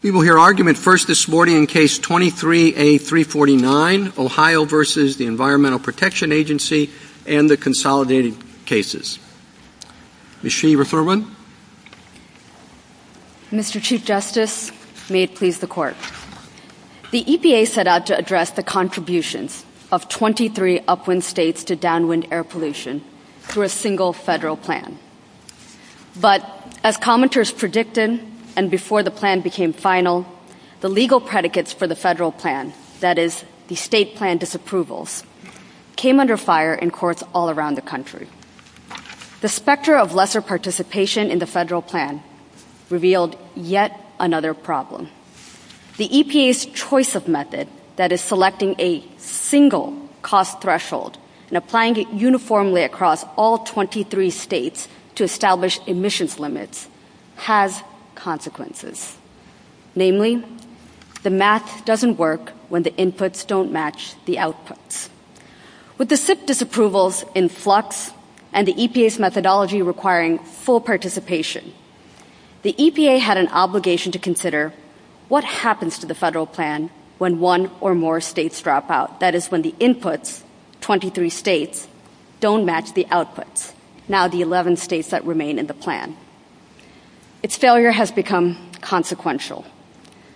We will hear argument first this morning in Case 23-A-349, Ohio v. Environmental Protection Agency and the Consolidated Cases. Ms. Shee, refer one. Mr. Chief Justice, may it please the Court. The EPA set out to address the contributions of 23 upwind states to downwind air pollution through a single federal plan. But as commenters predicted and before the plan became final, the legal predicates for the federal plan, that is, the state plan disapprovals, came under fire in courts all around the country. The specter of lesser participation in the federal plan revealed yet another problem. The EPA's choice of method, that is, selecting a single cost threshold and applying it uniformly across all 23 states to establish emissions limits, has consequences. Namely, the math doesn't work when the inputs don't match the outputs. With the SIPP disapprovals in flux and the EPA's methodology requiring full participation, the EPA had an obligation to consider what happens to the federal plan when one or more states drop out. That is, when the inputs, 23 states, don't match the outputs, now the 11 states that remain in the plan. Its failure has become consequential.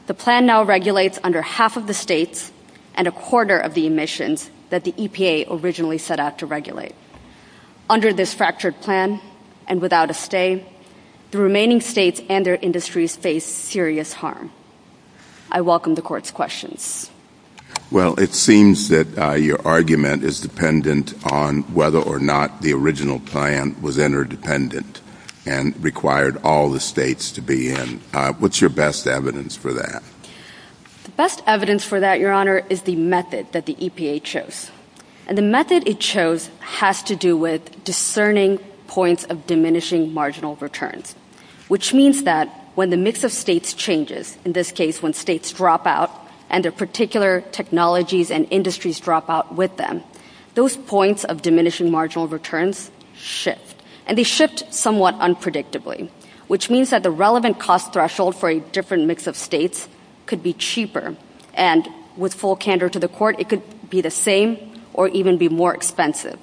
The plan now regulates under half of the states and a quarter of the emissions that the EPA originally set out to regulate. Under this fractured plan and without a stay, the remaining states and their industries face serious harm. I welcome the Court's questions. Well, it seems that your argument is dependent on whether or not the original plan was interdependent and required all the states to be in. What's your best evidence for that? The best evidence for that, Your Honor, is the method that the EPA chose. And the method it chose has to do with discerning points of diminishing marginal returns, which means that when the mix of states changes, in this case when states drop out and their particular technologies and industries drop out with them, those points of diminishing marginal returns shift. And they shift somewhat unpredictably, which means that the relevant cost threshold for a different mix of states could be cheaper. And with full candor to the Court, it could be the same or even be more expensive.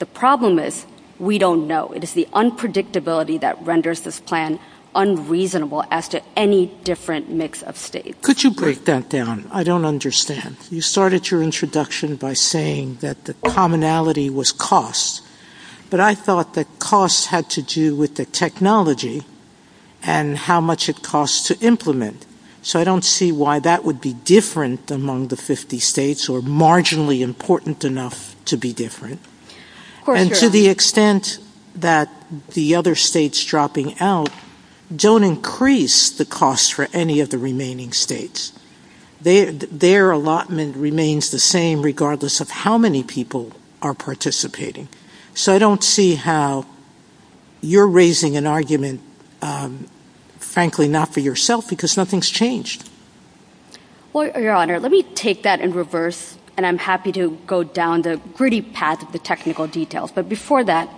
The problem is we don't know. It is the unpredictability that renders this plan unreasonable as to any different mix of states. Could you break that down? I don't understand. You started your introduction by saying that the commonality was cost. But I thought that cost had to do with the technology and how much it costs to implement. So I don't see why that would be different among the 50 states or marginally important enough to be different. And to the extent that the other states dropping out don't increase the cost for any of the remaining states. Their allotment remains the same regardless of how many people are participating. So I don't see how you're raising an argument, frankly, not for yourself because nothing's changed. Well, Your Honor, let me take that in reverse, and I'm happy to go down the gritty path of the technical details. But before that,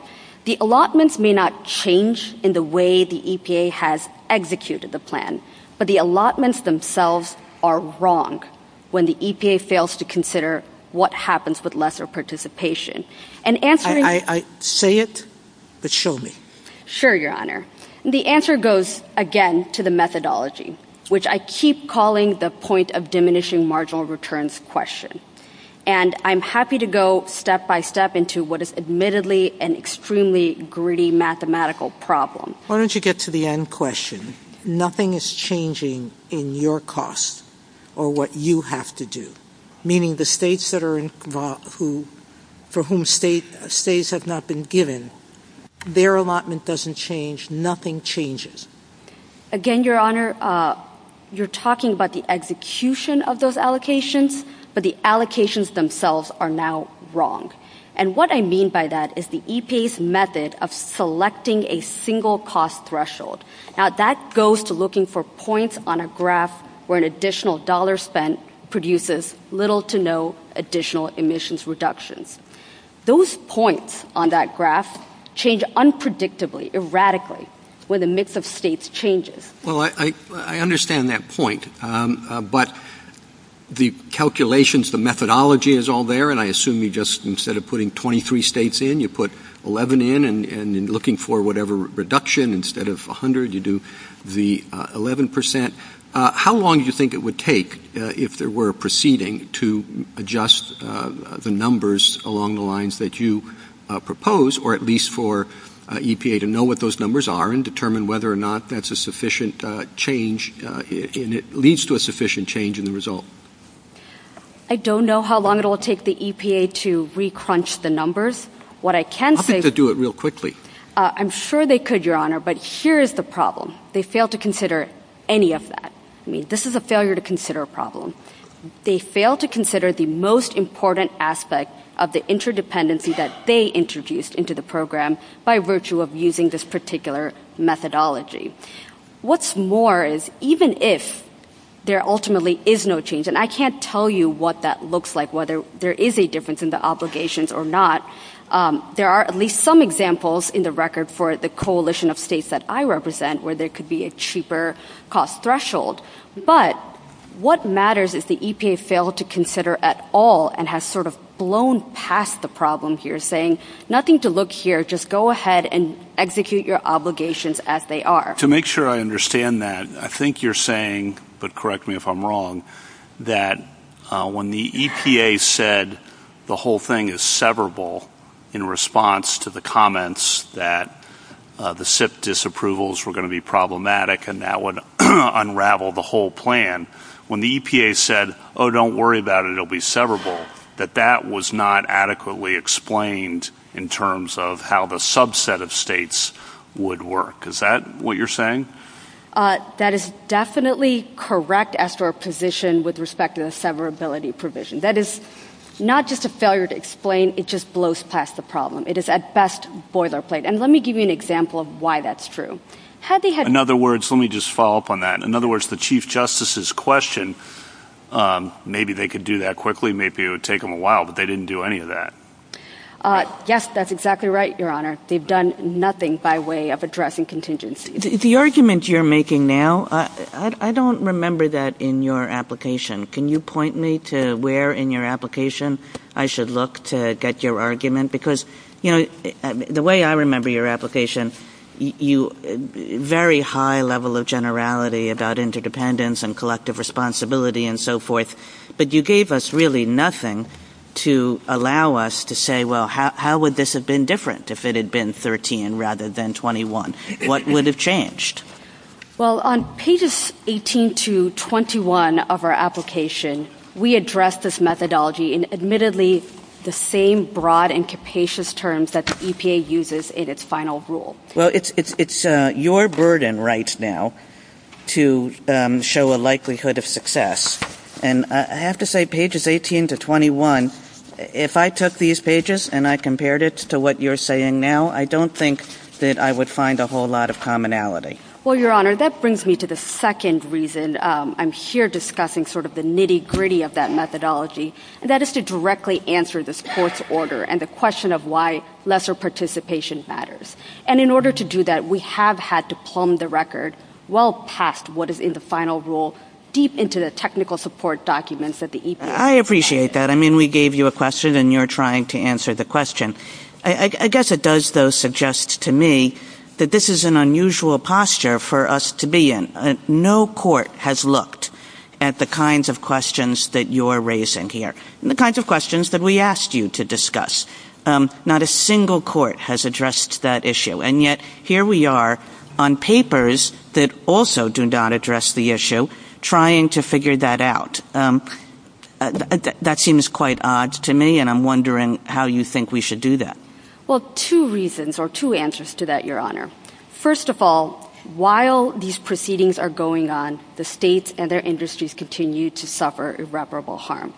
the allotments may not change in the way the EPA has executed the plan, but the allotments themselves are wrong when the EPA fails to consider what happens with lesser participation. Say it, but show me. Sure, Your Honor. The answer goes, again, to the methodology, which I keep calling the point of diminishing marginal returns question. And I'm happy to go step by step into what is admittedly an extremely gritty mathematical problem. Why don't you get to the end question? Nothing is changing in your costs or what you have to do. Meaning the states for whom states have not been given, their allotment doesn't change. Nothing changes. Again, Your Honor, you're talking about the execution of those allocations, but the allocations themselves are now wrong. And what I mean by that is the EPA's method of selecting a single cost threshold. Now, that goes to looking for points on a graph where an additional dollar spent produces little to no additional emissions reduction. Those points on that graph change unpredictably, erratically, when the mix of states changes. Well, I understand that point, but the calculations, the methodology is all there, and I assume you just, instead of putting 23 states in, you put 11 in and looking for whatever reduction. Instead of 100, you do the 11%. How long do you think it would take, if there were a proceeding, to adjust the numbers along the lines that you propose, or at least for EPA to know what those numbers are and determine whether or not that's a sufficient change and it leads to a sufficient change in the result? I don't know how long it will take the EPA to re-crunch the numbers. What I can say is... I think they'd do it real quickly. I'm sure they could, Your Honor, but here is the problem. They fail to consider any of that. This is a failure to consider problem. They fail to consider the most important aspect of the interdependency that they introduced into the program by virtue of using this particular methodology. What's more is, even if there ultimately is no change, and I can't tell you what that looks like, whether there is a difference in the obligations or not, there are at least some examples in the record for the coalition of states that I represent where there could be a cheaper cost threshold, but what matters is the EPA failed to consider at all and has sort of blown past the problems. You're saying, nothing to look here, just go ahead and execute your obligations as they are. To make sure I understand that, I think you're saying, but correct me if I'm wrong, that when the EPA said the whole thing is severable in response to the comments that the SIP disapprovals were going to be problematic and that would unravel the whole plan, when the EPA said, oh, don't worry about it, it will be severable, that that was not adequately explained in terms of how the subset of states would work. Is that what you're saying? That is definitely correct as for a position with respect to the severability provision. That is not just a failure to explain, it just blows past the problem. It is at best boilerplate, and let me give you an example of why that's true. In other words, let me just follow up on that. In other words, the Chief Justice's question, maybe they could do that quickly, maybe it would take them a while, but they didn't do any of that. Yes, that's exactly right, Your Honor. They've done nothing by way of addressing contingency. The argument you're making now, I don't remember that in your application. Can you point me to where in your application I should look to get your argument? Because the way I remember your application, you had a very high level of generality about interdependence and collective responsibility and so forth, but you gave us really nothing to allow us to say, well, how would this have been different if it had been 13 rather than 21? What would have changed? Well, on pages 18 to 21 of our application, we addressed this methodology in admittedly the same broad and capacious terms that the EPA uses in its final rule. Well, it's your burden right now to show a likelihood of success, and I have to say pages 18 to 21, if I took these pages and I compared it to what you're saying now, I don't think that I would find a whole lot of commonality. Well, Your Honor, that brings me to the second reason. I'm here discussing sort of the nitty-gritty of that methodology, and that is to directly answer this court's order and the question of why lesser participation matters. And in order to do that, we have had to plumb the record well past what is in the final rule, deep into the technical support documents that the EPA has. I appreciate that. I mean, we gave you a question, and you're trying to answer the question. I guess it does, though, suggest to me that this is an unusual posture for us to be in. No court has looked at the kinds of questions that you're raising here, the kinds of questions that we asked you to discuss. Not a single court has addressed that issue, and yet here we are on papers that also do not address the issue trying to figure that out. That seems quite odd to me, and I'm wondering how you think we should do that. Well, two reasons or two answers to that, Your Honor. First of all, while these proceedings are going on, the states and their industries continue to suffer irreparable harm.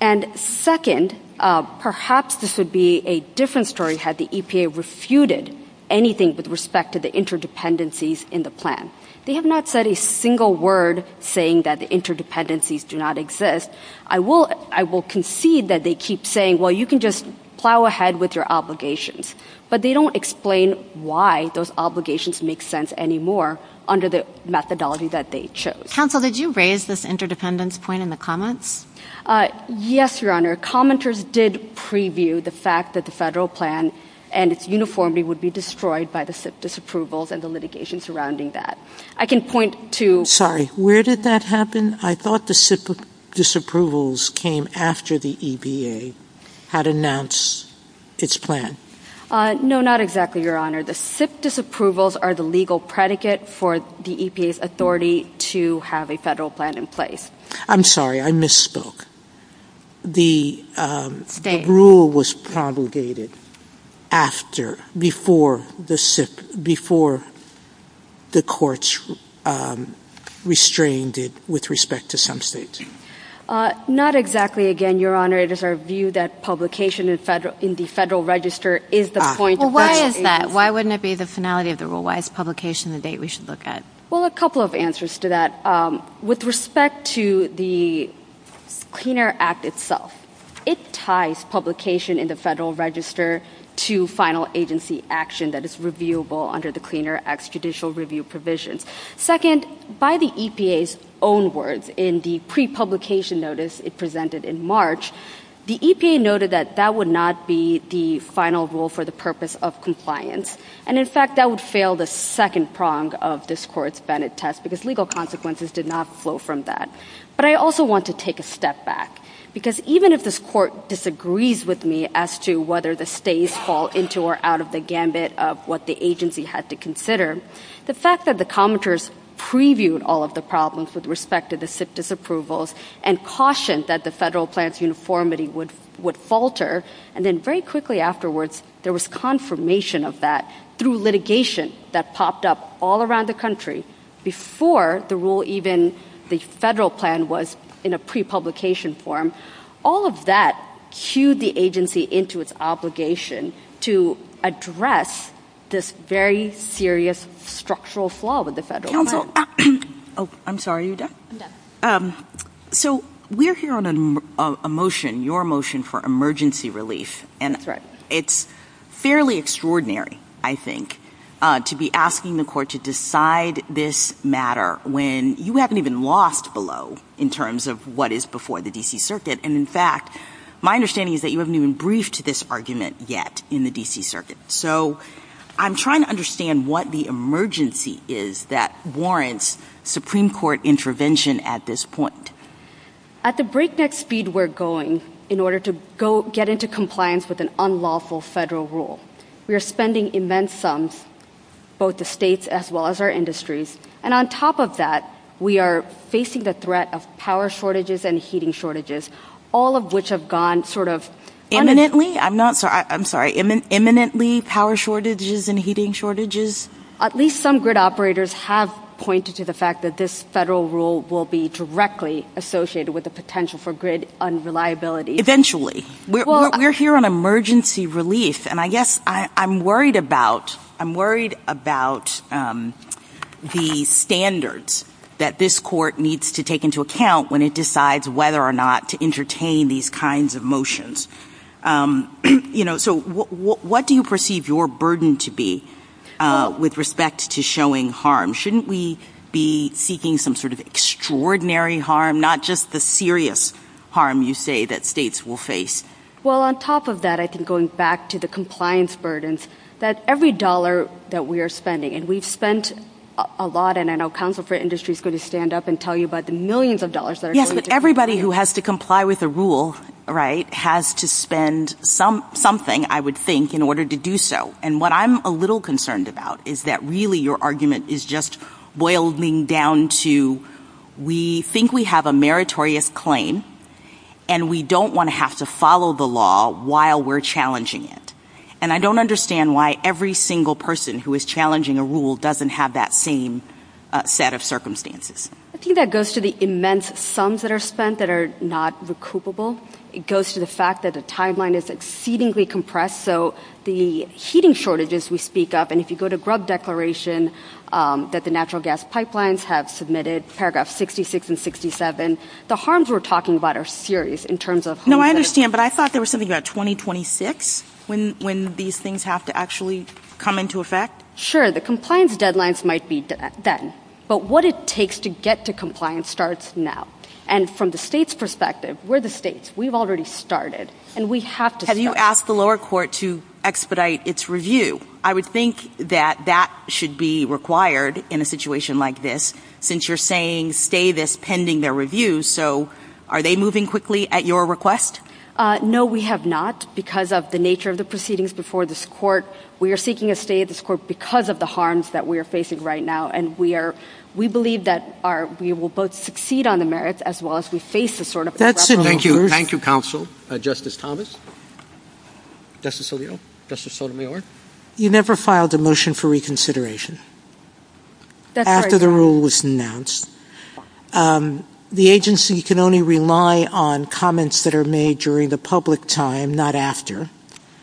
And second, perhaps this would be a different story had the EPA refuted anything with respect to the interdependencies in the plan. They have not said a single word saying that interdependencies do not exist. I will concede that they keep saying, well, you can just plow ahead with your obligations, but they don't explain why those obligations make sense anymore under the methodology that they chose. Counsel, did you raise this interdependence point in the comments? Yes, Your Honor. Commenters did preview the fact that the federal plan and its uniformity would be destroyed by the SIP disapprovals and the litigation surrounding that. I can point to— Sorry, where did that happen? I thought the SIP disapprovals came after the EPA had announced its plan. No, not exactly, Your Honor. The SIP disapprovals are the legal predicate for the EPA's authority to have a federal plan in place. I'm sorry, I misspoke. The rule was promulgated after, before the courts restrained it with respect to some states. Not exactly, again, Your Honor. It is our view that publication in the Federal Register is the point of— Well, why is that? Why wouldn't it be the finality of the rule? Why is publication the date we should look at? Well, a couple of answers to that. With respect to the Clean Air Act itself, it ties publication in the Federal Register to final agency action that is reviewable under the Clean Air Act's judicial review provision. Second, by the EPA's own words in the prepublication notice it presented in March, the EPA noted that that would not be the final rule for the purpose of compliance. And, in fact, that would fail the second prong of this Court's Bennett test because legal consequences did not flow from that. But I also want to take a step back because even if this Court disagrees with me as to whether the states fall into or out of the gambit of what the agency had to consider, the fact that the commenters previewed all of the problems with respect to the SIP disapprovals and cautioned that the Federal Plan's uniformity would falter, and then very quickly afterwards there was confirmation of that through litigation that popped up all around the country before the rule even—the Federal Plan was in a prepublication form, all of that cued the agency into its obligation to address this very serious structural flaw with the Federal Plan. Oh, I'm sorry, you're deaf? So we're here on a motion, your motion for emergency relief, and it's fairly extraordinary, I think, to be asking the Court to decide this matter when you haven't even lost below in terms of what is before the D.C. Circuit. And, in fact, my understanding is that you haven't even briefed this argument yet in the D.C. Circuit. So I'm trying to understand what the emergency is that warrants Supreme Court intervention at this point. At the breakneck speed we're going in order to get into compliance with an unlawful federal rule, we are spending immense sums, both the states as well as our industries, and on top of that we are facing the threat of power shortages and heating shortages, all of which have gone sort of— Imminently? I'm sorry, imminently power shortages and heating shortages? At least some grid operators have pointed to the fact that this federal rule will be directly associated with the potential for grid unreliability. Eventually. We're here on emergency relief, and I guess I'm worried about the standards that this Court needs to take into account when it decides whether or not to entertain these kinds of motions. So what do you perceive your burden to be with respect to showing harm? Shouldn't we be seeking some sort of extraordinary harm, not just the serious harm you say that states will face? Well, on top of that, going back to the compliance burdens, that every dollar that we are spending, and we've spent a lot, and I know Council for Industry is going to stand up and tell you about the millions of dollars— Yes, but everybody who has to comply with a rule has to spend something, I would think, in order to do so. And what I'm a little concerned about is that really your argument is just boiling down to we think we have a meritorious claim, and we don't want to have to follow the law while we're challenging it. And I don't understand why every single person who is challenging a rule doesn't have that same set of circumstances. I think that goes to the immense sums that are spent that are not recoupable. It goes to the fact that the timeline is exceedingly compressed, so the heating shortages we speak of, and if you go to GRUB declaration that the natural gas pipelines have submitted, paragraphs 66 and 67, the harms we're talking about are serious in terms of— No, I understand, but I thought there was something about 2026 when these things have to actually come into effect? Sure, the compliance deadlines might be then, but what it takes to get to compliance starts now. And from the state's perspective, we're the states, we've already started, and we have to start. Have you asked the lower court to expedite its review? I would think that that should be required in a situation like this, since you're saying stay this pending their review, so are they moving quickly at your request? No, we have not, because of the nature of the proceedings before this court. We are seeking a stay of this court because of the harms that we are facing right now, and we believe that we will both succeed on the merits as well as we face a sort of— Thank you, counsel. Justice Thomas? Justice Alito? Justice Sotomayor? You never filed a motion for reconsideration after the rule was announced. The agency can only rely on comments that are made during the public time, not after,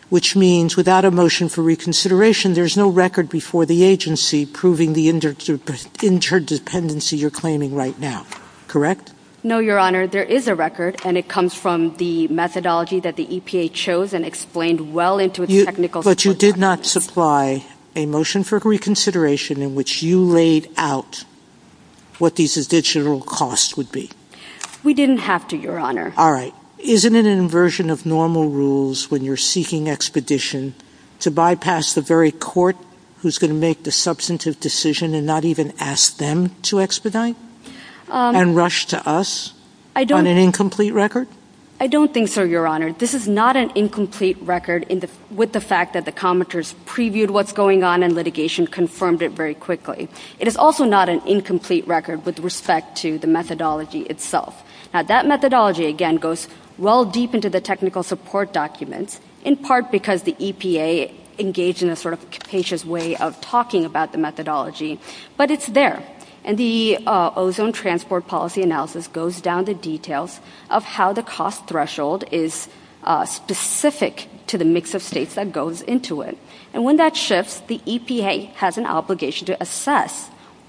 which means without a motion for reconsideration, there's no record before the agency proving the interdependency you're claiming right now. Correct? No, Your Honor, there is a record, and it comes from the methodology that the EPA chose and explained well into a technical— But you did not supply a motion for reconsideration in which you laid out what these additional costs would be. We didn't have to, Your Honor. All right. Isn't it an inversion of normal rules when you're seeking expedition to bypass the very court who's going to make the substantive decision and not even ask them to expedite and rush to us on an incomplete record? I don't think so, Your Honor. This is not an incomplete record with the fact that the commenters previewed what's going on and litigation confirmed it very quickly. It is also not an incomplete record with respect to the methodology itself. That methodology, again, goes well deep into the technical support document, in part because the EPA engaged in a sort of capacious way of talking about the methodology, but it's there. And the ozone transport policy analysis goes down to details of how the cost threshold is specific to the mix of states that goes into it. And when that shifts, the EPA has an obligation to assess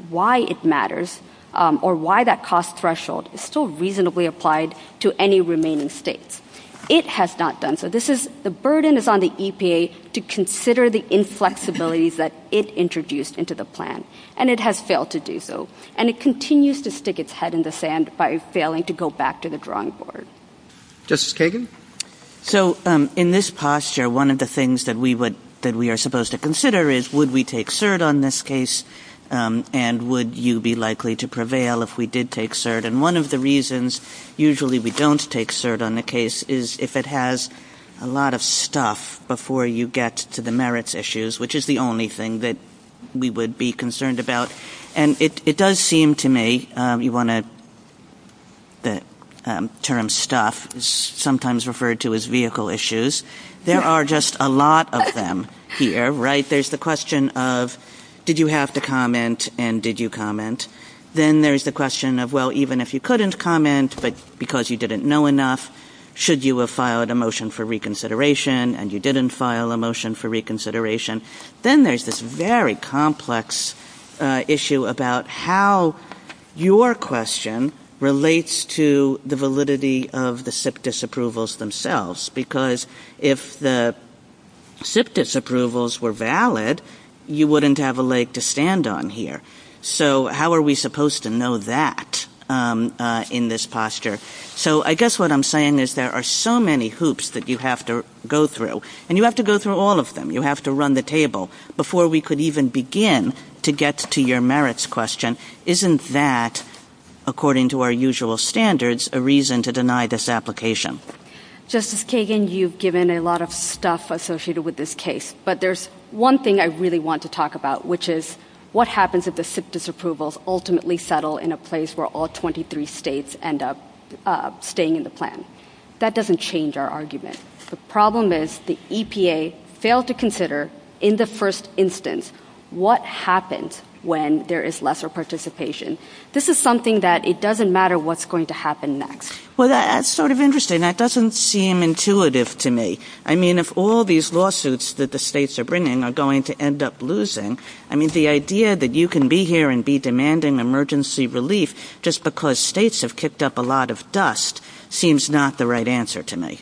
why it matters or why that cost threshold is still reasonably applied to any remaining states. It has not done so. The burden is on the EPA to consider the inflexibilities that it introduced into the plan. And it has failed to do so. And it continues to stick its head in the sand by failing to go back to the drawing board. Justice Kagan? So in this posture, one of the things that we are supposed to consider is would we take cert on this case and would you be likely to prevail if we did take cert? And one of the reasons usually we don't take cert on the case is if it has a lot of stuff before you get to the merits issues, which is the only thing that we would be concerned about. And it does seem to me you want to term stuff, sometimes referred to as vehicle issues. There are just a lot of them here, right? There's the question of did you have to comment and did you comment? Then there's the question of, well, even if you couldn't comment because you didn't know enough, should you have filed a motion for reconsideration and you didn't file a motion for reconsideration? Then there's this very complex issue about how your question relates to the validity of the SIPDIS approvals themselves. Because if the SIPDIS approvals were valid, you wouldn't have a leg to stand on here. So how are we supposed to know that in this posture? So I guess what I'm saying is there are so many hoops that you have to go through, and you have to go through all of them. You have to run the table before we could even begin to get to your merits question. Isn't that, according to our usual standards, a reason to deny this application? Justice Kagan, you've given a lot of stuff associated with this case, but there's one thing I really want to talk about, which is what happens if the SIPDIS approvals ultimately settle in a place where all 23 states end up staying in the plan? That doesn't change our argument. The problem is the EPA failed to consider in the first instance what happens when there is lesser participation. This is something that it doesn't matter what's going to happen next. Well, that's sort of interesting. That doesn't seem intuitive to me. I mean, if all these lawsuits that the states are bringing are going to end up losing, I mean, the idea that you can be here and be demanding emergency relief just because states have kicked up a lot of dust seems not the right answer to me.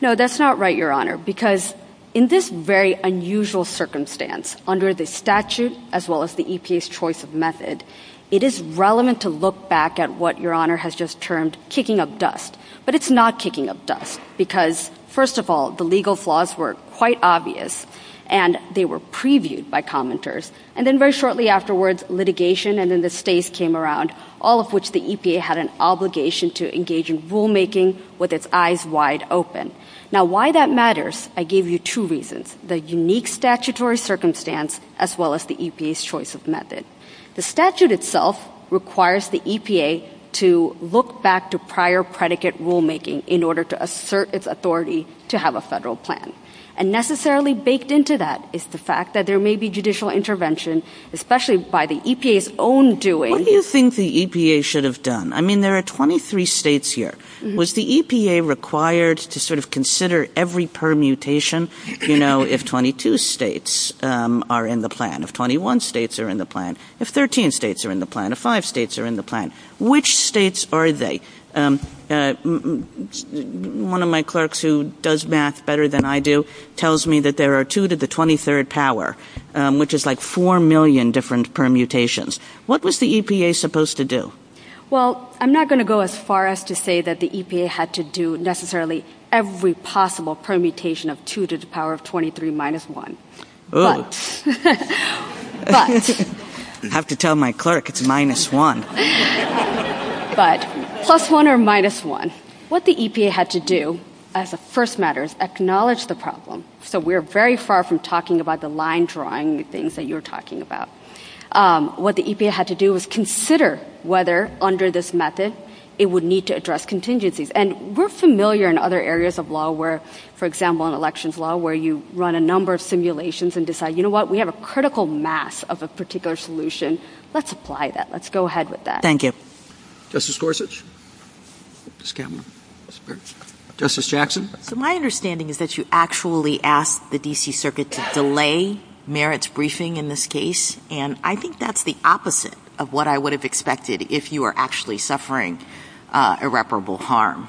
No, that's not right, Your Honor, because in this very unusual circumstance, under the statute as well as the EPA's choice of method, it is relevant to look back at what Your Honor has just termed kicking up dust. But it's not kicking up dust because, first of all, the legal flaws were quite obvious, and they were previewed by commenters, and then very shortly afterwards litigation, and then the states came around, all of which the EPA had an obligation to engage in rulemaking with its eyes wide open. Now, why that matters, I gave you two reasons, the unique statutory circumstance as well as the EPA's choice of method. The statute itself requires the EPA to look back to prior predicate rulemaking in order to assert its authority to have a federal plan. And necessarily baked into that is the fact that there may be judicial intervention, especially by the EPA's own doing. What do you think the EPA should have done? I mean, there are 23 states here. Was the EPA required to sort of consider every permutation, you know, if 22 states are in the plan, if 21 states are in the plan, if 13 states are in the plan, if five states are in the plan? Which states are they? One of my clerks who does math better than I do tells me that there are two to the 23rd power, which is like four million different permutations. What was the EPA supposed to do? Well, I'm not going to go as far as to say that the EPA had to do necessarily every possible permutation of two to the power of 23 minus one. I have to tell my clerk it's minus one. But plus one or minus one. What the EPA had to do as a first matter is acknowledge the problem. So we're very far from talking about the line drawing things that you're talking about. What the EPA had to do was consider whether under this method it would need to address contingencies. And we're familiar in other areas of law where, for example, in elections law where you run a number of simulations and decide, you know what, we have a critical mass of a particular solution. Let's apply that. Let's go ahead with that. Thank you. Justice Gorsuch. Justice Jackson. My understanding is that you actually asked the D.C. Circuit to delay Merritt's briefing in this case. And I think that's the opposite of what I would have expected if you were actually suffering irreparable harm.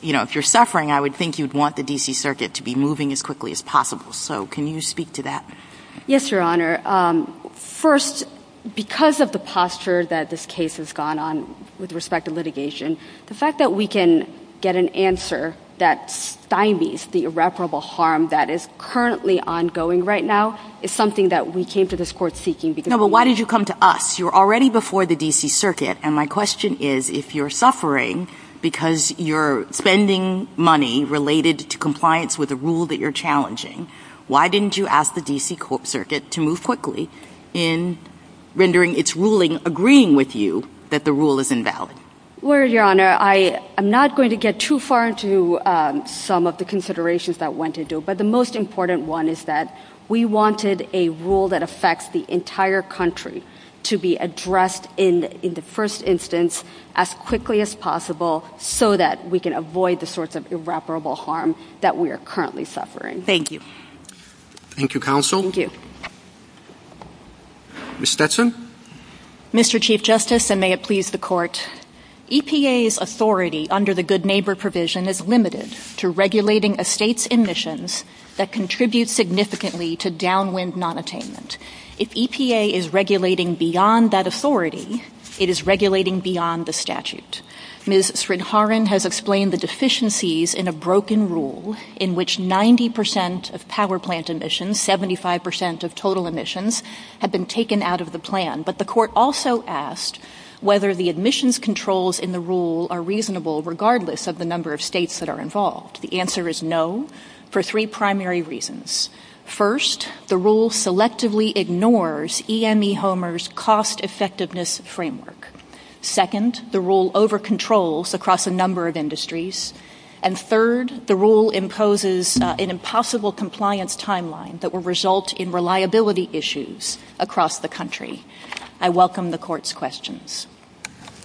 You know, if you're suffering, I would think you'd want the D.C. Circuit to be moving as quickly as possible. So can you speak to that? Yes, Your Honor. First, because of the posture that this case has gone on with respect to litigation, the fact that we can get an answer that stymies the irreparable harm that is currently ongoing right now is something that we came to this court seeking. No, but why did you come to us? You were already before the D.C. Circuit. And my question is, if you're suffering because you're spending money related to compliance with a rule that you're challenging, why didn't you ask the D.C. Circuit to move quickly in rendering its ruling agreeing with you that the rule is invalid? Well, Your Honor, I'm not going to get too far into some of the considerations that went into it. But the most important one is that we wanted a rule that affects the entire country to be addressed in the first instance as quickly as possible so that we can avoid the sorts of irreparable harm that we are currently suffering. Thank you. Thank you, Counsel. Thank you. Ms. Stetson? Mr. Chief Justice, and may it please the Court, EPA's authority under the Good Neighbor provision is limited to regulating estates and missions that contribute significantly to downwind nonattainment. If EPA is regulating beyond that authority, it is regulating beyond the statute. Ms. Sridharan has explained the deficiencies in a broken rule in which 90 percent of power plant emissions, 75 percent of total emissions, have been taken out of the plan. But the Court also asked whether the admissions controls in the rule are reasonable regardless of the number of states that are involved. The answer is no for three primary reasons. First, the rule selectively ignores EME Homer's cost-effectiveness framework. Second, the rule over-controls across a number of industries. And third, the rule imposes an impossible compliance timeline that will result in reliability issues across the country. I welcome the Court's questions.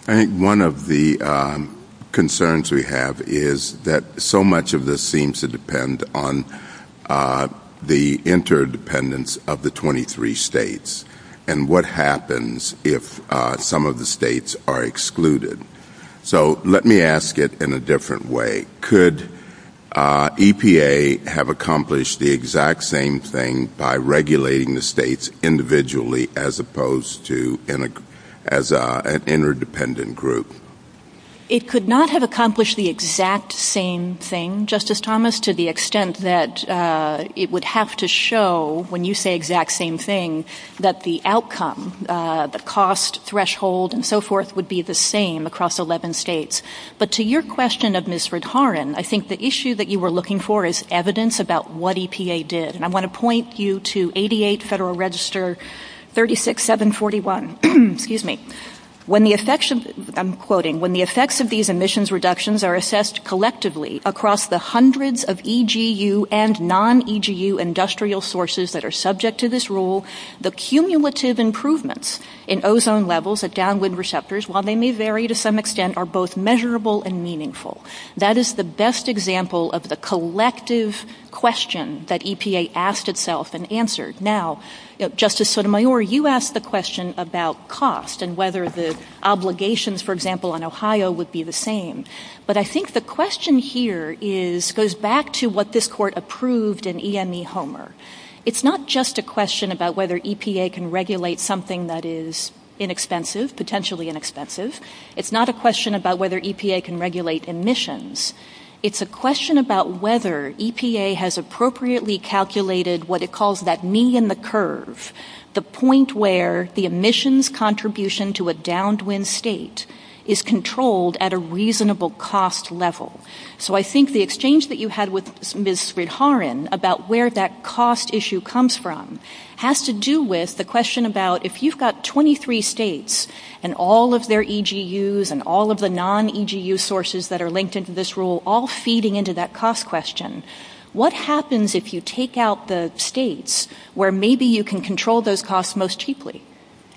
I think one of the concerns we have is that so much of this seems to depend on the interdependence of the 23 states and what happens if some of the states are excluded. So let me ask it in a different way. Could EPA have accomplished the exact same thing by regulating the states individually as opposed to as an interdependent group? It could not have accomplished the exact same thing, Justice Thomas, to the extent that it would have to show, when you say the exact same thing, that the outcome, the cost threshold and so forth, would be the same across 11 states. But to your question of Ms. Rudharan, I think the issue that you were looking for is evidence about what EPA did. And I want to point you to 88 Federal Register 36741. When the effects of these emissions reductions are assessed collectively across the hundreds of EGU and non-EGU industrial sources that are subject to this rule, the cumulative improvements in ozone levels at downwind receptors, while they may vary to some extent, are both measurable and meaningful. That is the best example of the collective question that EPA asked itself and answered. Now, Justice Sotomayor, you asked the question about cost and whether the obligations, for example, in Ohio would be the same. But I think the question here goes back to what this Court approved in EME Homer. It's not just a question about whether EPA can regulate something that is inexpensive, potentially inexpensive. It's not a question about whether EPA can regulate emissions. It's a question about whether EPA has appropriately calculated what it calls that me in the curve, the point where the emissions contribution to a downwind state is controlled at a reasonable cost level. So I think the exchange that you had with Ms. Rudharan about where that cost issue comes from has to do with the question about if you've got 23 states and all of their EGUs and all of the non-EGU sources that are linked into this rule all feeding into that cost question, what happens if you take out the states where maybe you can control those costs most cheaply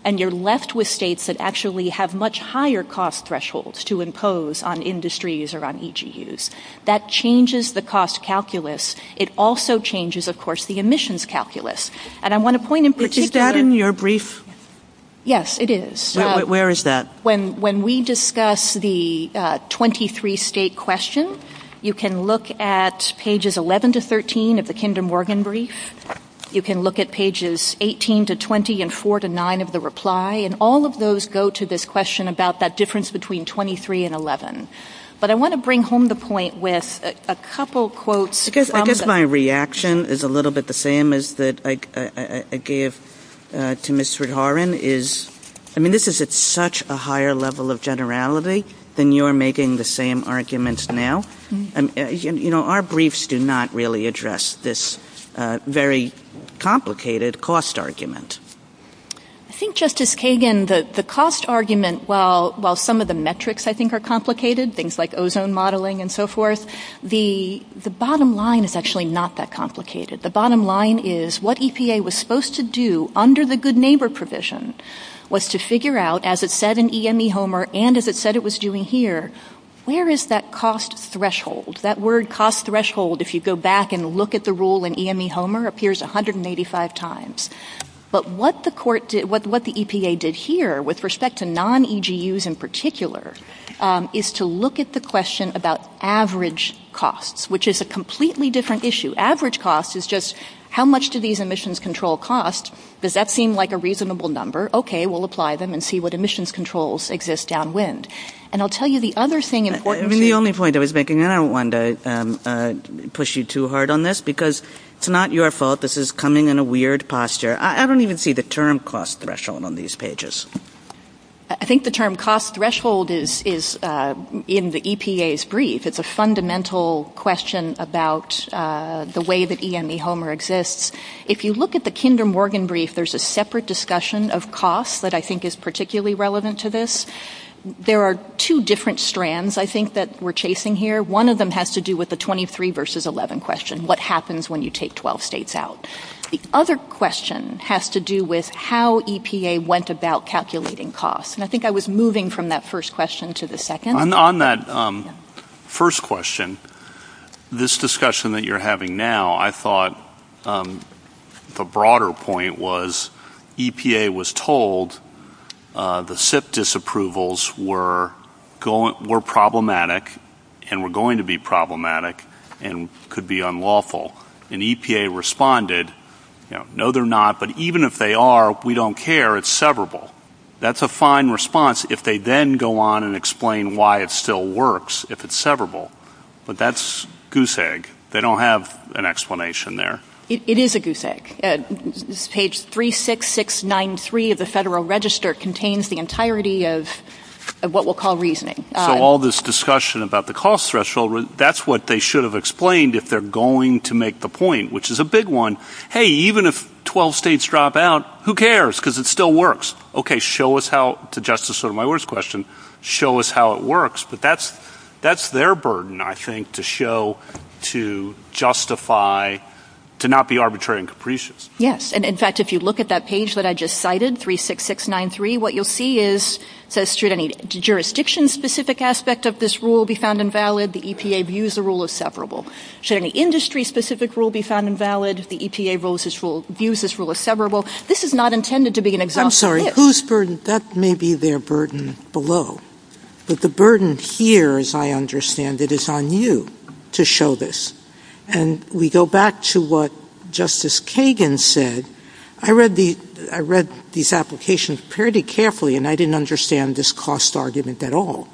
and you're left with states that actually have much higher cost thresholds to impose on industries or on EGUs? That changes the cost calculus. It also changes, of course, the emissions calculus. And I want to point in particular... Is that in your brief? Yes, it is. Where is that? When we discuss the 23-state question, you can look at pages 11-13 of the Kinder Morgan brief. You can look at pages 18-20 and 4-9 of the reply, and all of those go to this question about that difference between 23 and 11. But I want to bring home the point with a couple quotes from the... I guess my reaction is a little bit the same as that I gave to Ms. Rudharan. This is at such a higher level of generality than you're making the same arguments now. Our briefs do not really address this very complicated cost argument. I think, Justice Kagan, the cost argument, while some of the metrics, I think, are complicated, things like ozone modeling and so forth, the bottom line is actually not that complicated. The bottom line is what EPA was supposed to do under the good neighbor provision was to figure out, as it said in EME Homer and as it said it was doing here, where is that cost threshold? That word cost threshold, if you go back and look at the rule in EME Homer, appears 185 times. But what the EPA did here, with respect to non-EGUs in particular, is to look at the question about average costs, which is a completely different issue. Average cost is just how much do these emissions control cost? Does that seem like a reasonable number? Okay, we'll apply them and see what emissions controls exist downwind. And I'll tell you the other thing... The only point I was making, and I don't want to push you too hard on this, because it's not your fault. This is coming in a weird posture. I don't even see the term cost threshold on these pages. I think the term cost threshold is in the EPA's brief. It's a fundamental question about the way that EME Homer exists. If you look at the Kinder Morgan brief, there's a separate discussion of cost that I think is particularly relevant to this. There are two different strands, I think, that we're chasing here. One of them has to do with the 23 versus 11 question. What happens when you take 12 states out? The other question has to do with how EPA went about calculating cost. And I think I was moving from that first question to the second. On that first question, this discussion that you're having now, I thought the broader point was EPA was told the SIP disapprovals were problematic and were going to be problematic and could be unlawful. And EPA responded, no, they're not. But even if they are, we don't care. It's severable. That's a fine response if they then go on and explain why it still works if it's severable. But that's goose egg. They don't have an explanation there. It is a goose egg. Page 36693 of the Federal Register contains the entirety of what we'll call reasoning. So all this discussion about the cost threshold, that's what they should have explained if they're going to make the point, which is a big one. Hey, even if 12 states drop out, who cares, because it still works. Okay, show us how, to justify my words question, show us how it works. But that's their burden, I think, to show, to justify, to not be arbitrary and capricious. Yes, and in fact, if you look at that page that I just cited, 36693, what you'll see is it says should any jurisdiction-specific aspect of this rule be found invalid, the EPA views the rule as severable. Should any industry-specific rule be found invalid, the EPA views this rule as severable. This is not intended to be an exhaustive list. I'm sorry, whose burden? That may be their burden below. But the burden here, as I understand it, is on you to show this. And we go back to what Justice Kagan said. I read these applications pretty carefully, and I didn't understand this cost argument at all.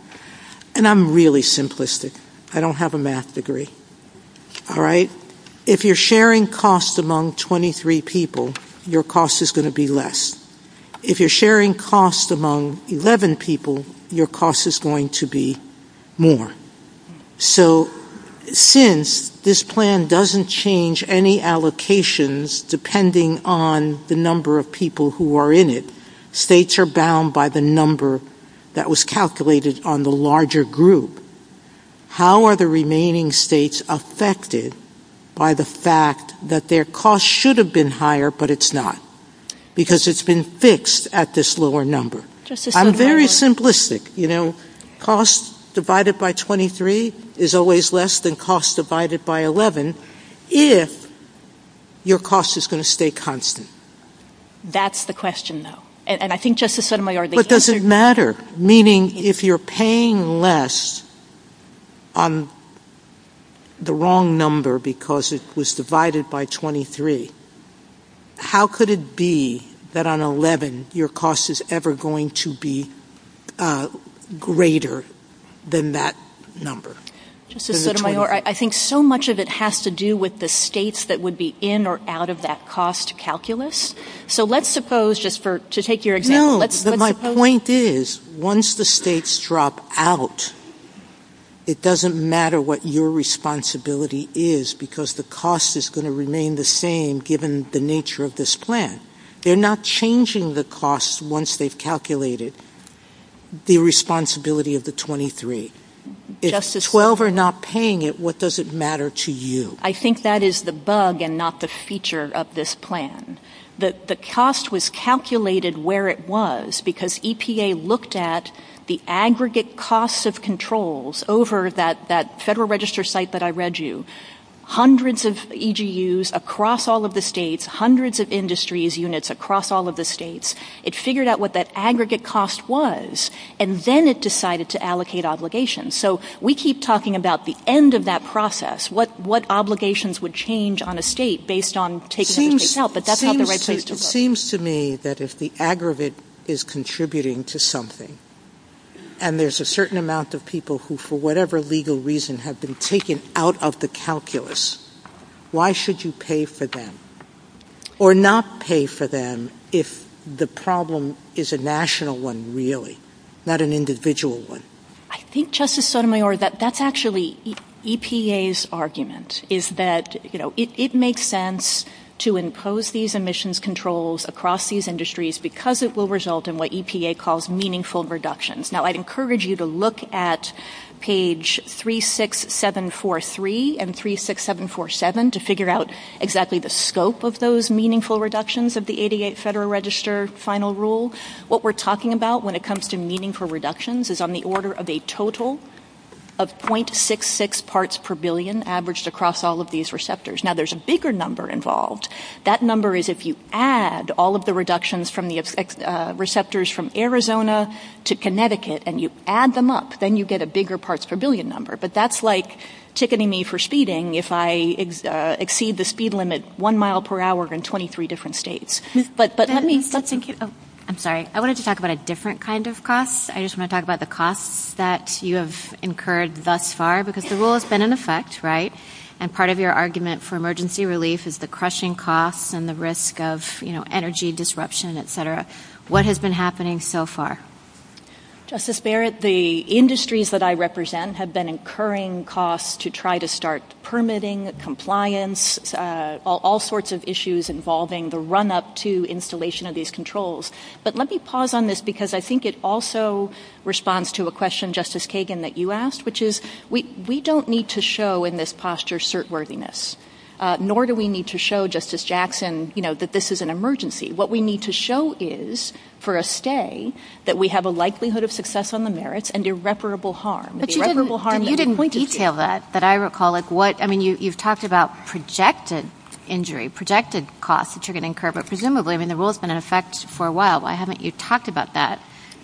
And I'm really simplistic. I don't have a math degree. All right? If you're sharing cost among 23 people, your cost is going to be less. If you're sharing cost among 11 people, your cost is going to be more. So, since this plan doesn't change any allocations depending on the number of people who are in it, states are bound by the number that was calculated on the larger group. How are the remaining states affected by the fact that their cost should have been higher, but it's not? Because it's been fixed at this lower number. I'm very simplistic. You know, cost divided by 23 is always less than cost divided by 11 if your cost is going to stay constant. That's the question, though. And I think Justice Sotomayor- But does it matter? Meaning, if you're paying less on the wrong number because it was divided by 23, how could it be that on 11 your cost is ever going to be greater than that number? Justice Sotomayor, I think so much of it has to do with the states that would be in or out of that cost calculus. So, let's suppose, just to take your example- No, but my point is, once the states drop out, it doesn't matter what your responsibility is, because the cost is going to remain the same given the nature of this plan. They're not changing the cost once they've calculated the responsibility of the 23. If 12 are not paying it, what does it matter to you? I think that is the bug and not the feature of this plan. The cost was calculated where it was, because EPA looked at the aggregate cost of controls over that Federal Register site that I read you. Hundreds of EGUs across all of the states, hundreds of industries units across all of the states, it figured out what that aggregate cost was, and then it decided to allocate obligations. So, we keep talking about the end of that process, what obligations would change on a state based on taking everything out, but that's not the right place to put it. It seems to me that if the aggregate is contributing to something, and there's a certain amount of people who, for whatever legal reason, have been taken out of the calculus, why should you pay for them or not pay for them if the problem is a national one, really, not an individual one? I think, Justice Sotomayor, that that's actually EPA's argument, is that it makes sense to impose these emissions controls across these industries because it will result in what EPA calls meaningful reductions. Now, I'd encourage you to look at page 36743 and 36747 to figure out exactly the scope of those meaningful reductions of the 88 Federal Register Final Rule. What we're talking about when it comes to meaningful reductions is on the order of a total of 0.66 parts per billion averaged across all of these receptors. Now, there's a bigger number involved. That number is if you add all of the reductions from the receptors from Arizona to Connecticut, and you add them up, then you get a bigger parts per billion number. But that's like ticketing me for speeding if I exceed the speed limit one mile per hour in 23 different states. I'm sorry. I wanted to talk about a different kind of cost. I just want to talk about the cost that you have incurred thus far because the rule has been in effect, right? And part of your argument for emergency relief is the crushing cost and the risk of energy disruption, et cetera. What has been happening so far? Justice Barrett, the industries that I represent have been incurring costs to try to start permitting, compliance, all sorts of issues involving the run-up to installation of these controls. But let me pause on this because I think it also responds to a question, Justice Kagan, that you asked, which is we don't need to show in this posture certworthiness, nor do we need to show, Justice Jackson, that this is an emergency. What we need to show is for a stay that we have a likelihood of success on the merits and irreparable harm. But you didn't detail that, that I recall. I mean, you've talked about projected injury, projected costs that you're going to incur, but presumably the rule has been in effect for a while. Why haven't you talked about that?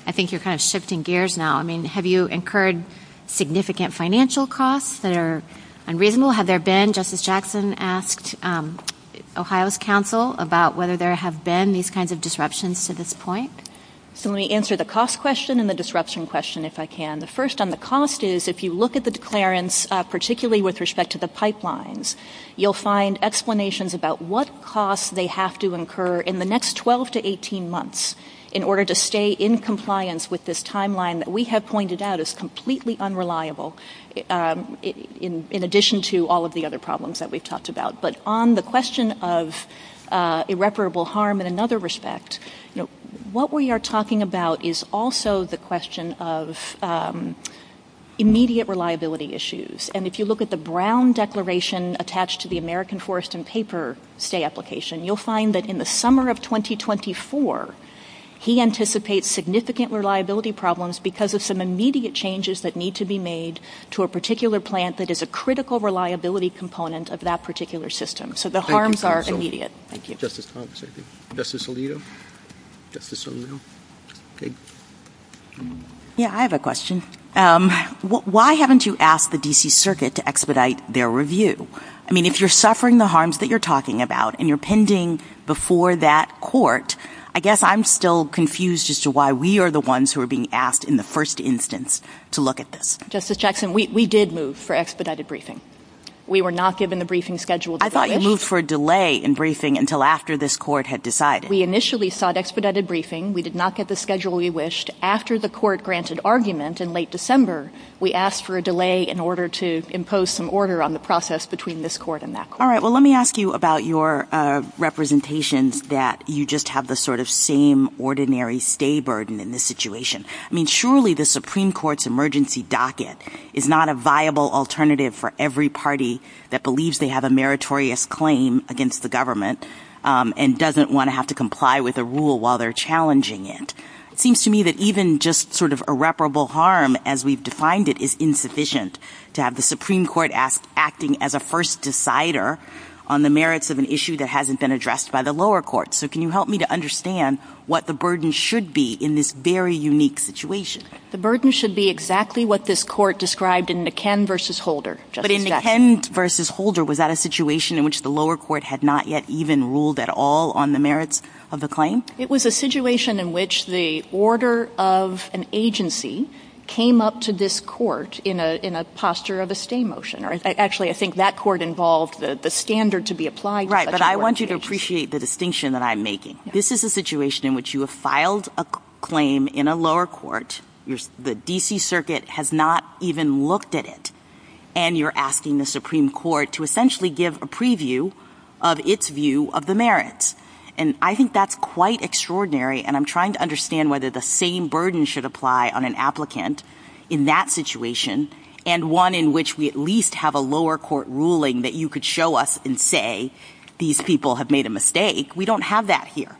I think you're kind of shifting gears now. I mean, have you incurred significant financial costs that are unreasonable? Have there been, Justice Jackson asked Ohio's council about whether there have been these kinds of disruptions to this point? So let me answer the cost question and the disruption question, if I can. The first on the cost is if you look at the declarants, particularly with respect to the pipelines, you'll find explanations about what costs they have to incur in the next 12 to 18 months in order to stay in compliance with this timeline that we have pointed out is completely unreliable, in addition to all of the other problems that we've talked about. But on the question of irreparable harm in another respect, what we are talking about is also the question of immediate reliability issues. And if you look at the Brown Declaration attached to the American Forest and Paper stay application, you'll find that in the summer of 2024, he anticipates significant reliability problems because of some immediate changes that need to be made to a particular plant that is a critical reliability component of that particular system. So the harms are immediate. Thank you. Yeah, I have a question. Why haven't you asked the D.C. Circuit to expedite their review? I mean, if you're suffering the harms that you're talking about and you're pending before that court, I guess I'm still confused as to why we are the ones who are being asked in the first instance to look at this. Justice Jackson, we did move for expedited briefing. We were not given a briefing schedule. I thought you moved for a delay in briefing until after this court had decided. We initially sought expedited briefing. We did not get the schedule we wished. After the court granted argument in late December, we asked for a delay in order to impose some order on the process between this court and that court. All right, well, let me ask you about your representation that you just have the sort of same ordinary stay burden in this situation. I mean, surely the Supreme Court's emergency docket is not a viable alternative for every party that believes they have a meritorious claim against the government and doesn't want to have to comply with a rule while they're challenging it. It seems to me that even just sort of irreparable harm, as we've defined it, is insufficient to have the Supreme Court acting as a first decider on the merits of an issue that hasn't been addressed by the lower courts. So can you help me to understand what the burden should be in this very unique situation? The burden should be exactly what this court described in the Ken v. Holder. But in the Ken v. Holder, was that a situation in which the lower court had not yet even ruled at all on the merits of the claim? It was a situation in which the order of an agency came up to this court in a posture of a stay motion. Actually, I think that court involved the standard to be applied. Right, but I want you to appreciate the distinction that I'm making. This is a situation in which you have filed a claim in a lower court, the D.C. Circuit has not even looked at it, and you're asking the Supreme Court to essentially give a preview of its view of the merits. And I think that's quite extraordinary, and I'm trying to understand whether the same burden should apply on an applicant in that situation, and one in which we at least have a lower court ruling that you could show us and say, these people have made a mistake. We don't have that here.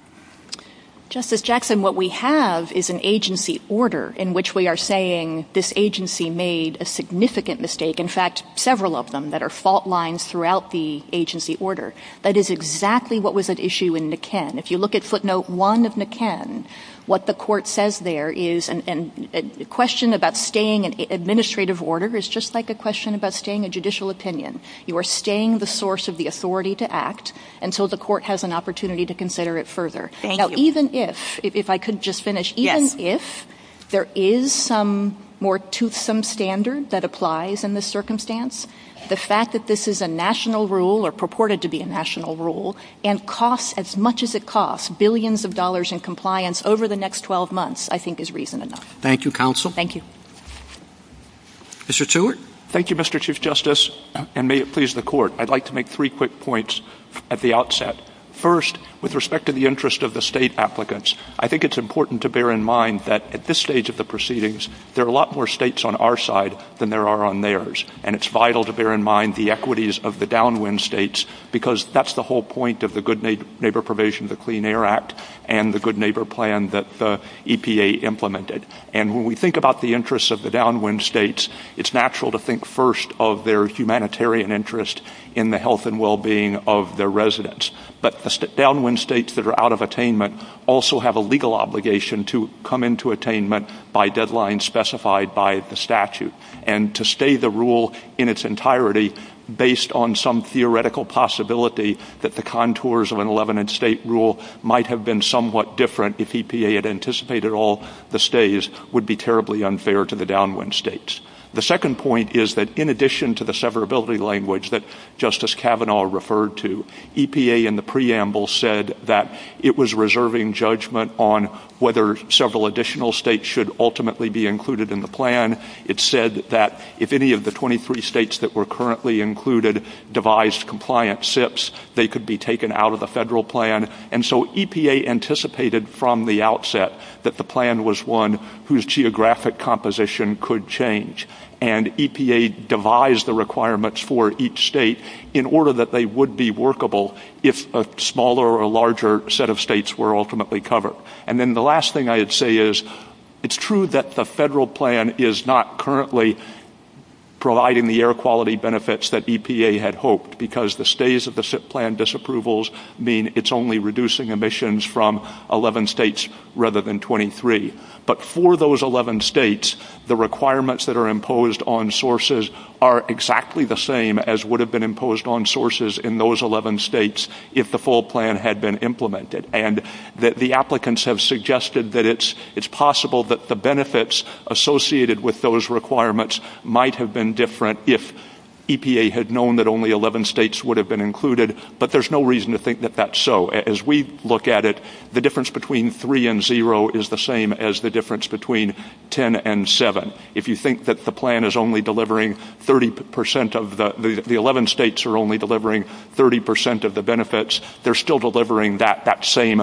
Justice Jackson, what we have is an agency order in which we are saying this agency made a significant mistake. In fact, several of them that are fault lines throughout the agency order. That is exactly what was at issue in McKen. If you look at footnote one of McKen, what the court says there is a question about staying an administrative order is just like a question about staying a judicial opinion. You are staying the source of the authority to act, and so the court has an opportunity to consider it further. Thank you. Now, even if, if I could just finish. Yes. Even if there is some standard that applies in this circumstance, the fact that this is a national rule, or purported to be a national rule, and costs as much as it costs, billions of dollars in compliance over the next 12 months, I think is reason enough. Thank you, counsel. Thank you. Mr. Stewart. Thank you, Mr. Chief Justice, and may it please the court. I'd like to make three quick points at the outset. First, with respect to the interest of the state applicants, I think it's important to bear in mind that at this stage of the proceedings, there are a lot more states on our side than there are on theirs, and it's vital to bear in mind the equities of the downwind states, because that's the whole point of the good neighbor probation, the Clean Air Act, and the good neighbor plan that the EPA implemented. And when we think about the interests of the downwind states, it's natural to think first of their humanitarian interest in the health and well-being of their residents. But downwind states that are out of attainment also have a legal obligation to come into attainment by deadlines specified by the statute. And to stay the rule in its entirety based on some theoretical possibility that the contours of an 11-instate rule might have been somewhat different if EPA had anticipated all the stays would be terribly unfair to the downwind states. The second point is that in addition to the severability language that Justice Kavanaugh referred to, EPA in the preamble said that it was reserving judgment on whether several additional states should ultimately be included in the plan. It said that if any of the 23 states that were currently included devised compliant SIPs, they could be taken out of the federal plan. And so EPA anticipated from the outset that the plan was one whose geographic composition could change. And EPA devised the requirements for each state in order that they would be workable if a smaller or larger set of states were ultimately covered. And then the last thing I would say is it's true that the federal plan is not currently providing the air quality benefits that EPA had hoped because the stays of the SIP plan disapprovals mean it's only reducing emissions from 11 states rather than 23. But for those 11 states, the requirements that are imposed on sources are exactly the same as would have been imposed on sources in those 11 states if the full plan had been implemented. And that the applicants have suggested that it's possible that the benefits associated with those requirements might have been different if EPA had known that only 11 states would have been included. But there's no reason to think that that's so. As we look at it, the difference between 3 and 0 is the same as the difference between 10 and 7. If you think that the plan is only delivering 30% of the 11 states are only delivering 30% of the 11 states are only delivering 30% of the 11 states are delivering the same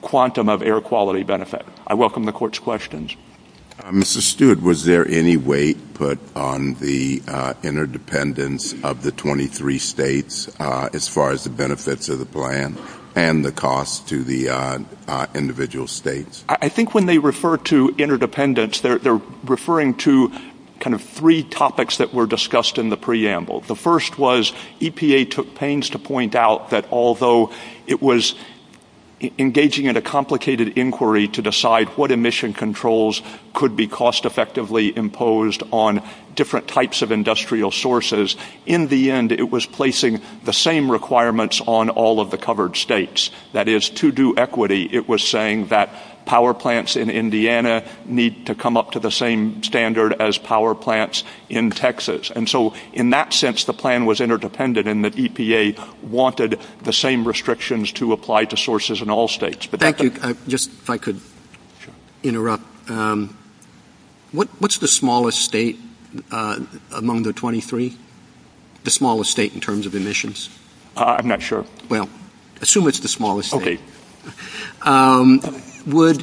quantum of air quality benefit. I welcome the court's questions. Mr. Stewart, was there any weight put on the interdependence of the 23 states as far as the benefits of the plan and the cost to the individual states? I think when they refer to interdependence, they're referring to kind of three topics that were discussed in the preamble. The first was EPA took pains to point out that although it was engaging in a complicated inquiry to decide what emission controls could be cost effectively imposed on different types of industrial sources, in the end it was placing the same requirements on all of the covered states. That is, to do equity, it was saying that power plants in Indiana need to come up to the same standard as power plants in Texas. And so in that sense, the plan was interdependent in that EPA wanted the same restrictions to apply to sources in all states. Thank you. Just if I could interrupt, what's the smallest state among the 23? The smallest state in terms of emissions? I'm not sure. Well, assume it's the smallest state. Okay.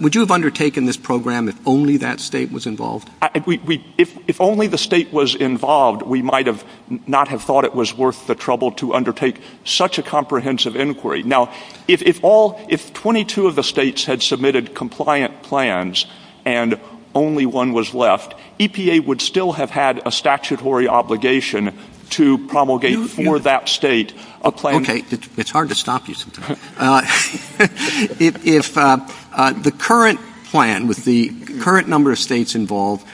Would you have undertaken this program if only that state was involved? If only the state was involved, we might have not have thought it was worth the trouble to undertake such a comprehensive inquiry. Now, if 22 of the states had submitted compliant plans and only one was left, EPA would still have had a statutory obligation to promulgate for that state a plan. Okay. It's hard to stop you sometimes. If the current plan with the current number of states involved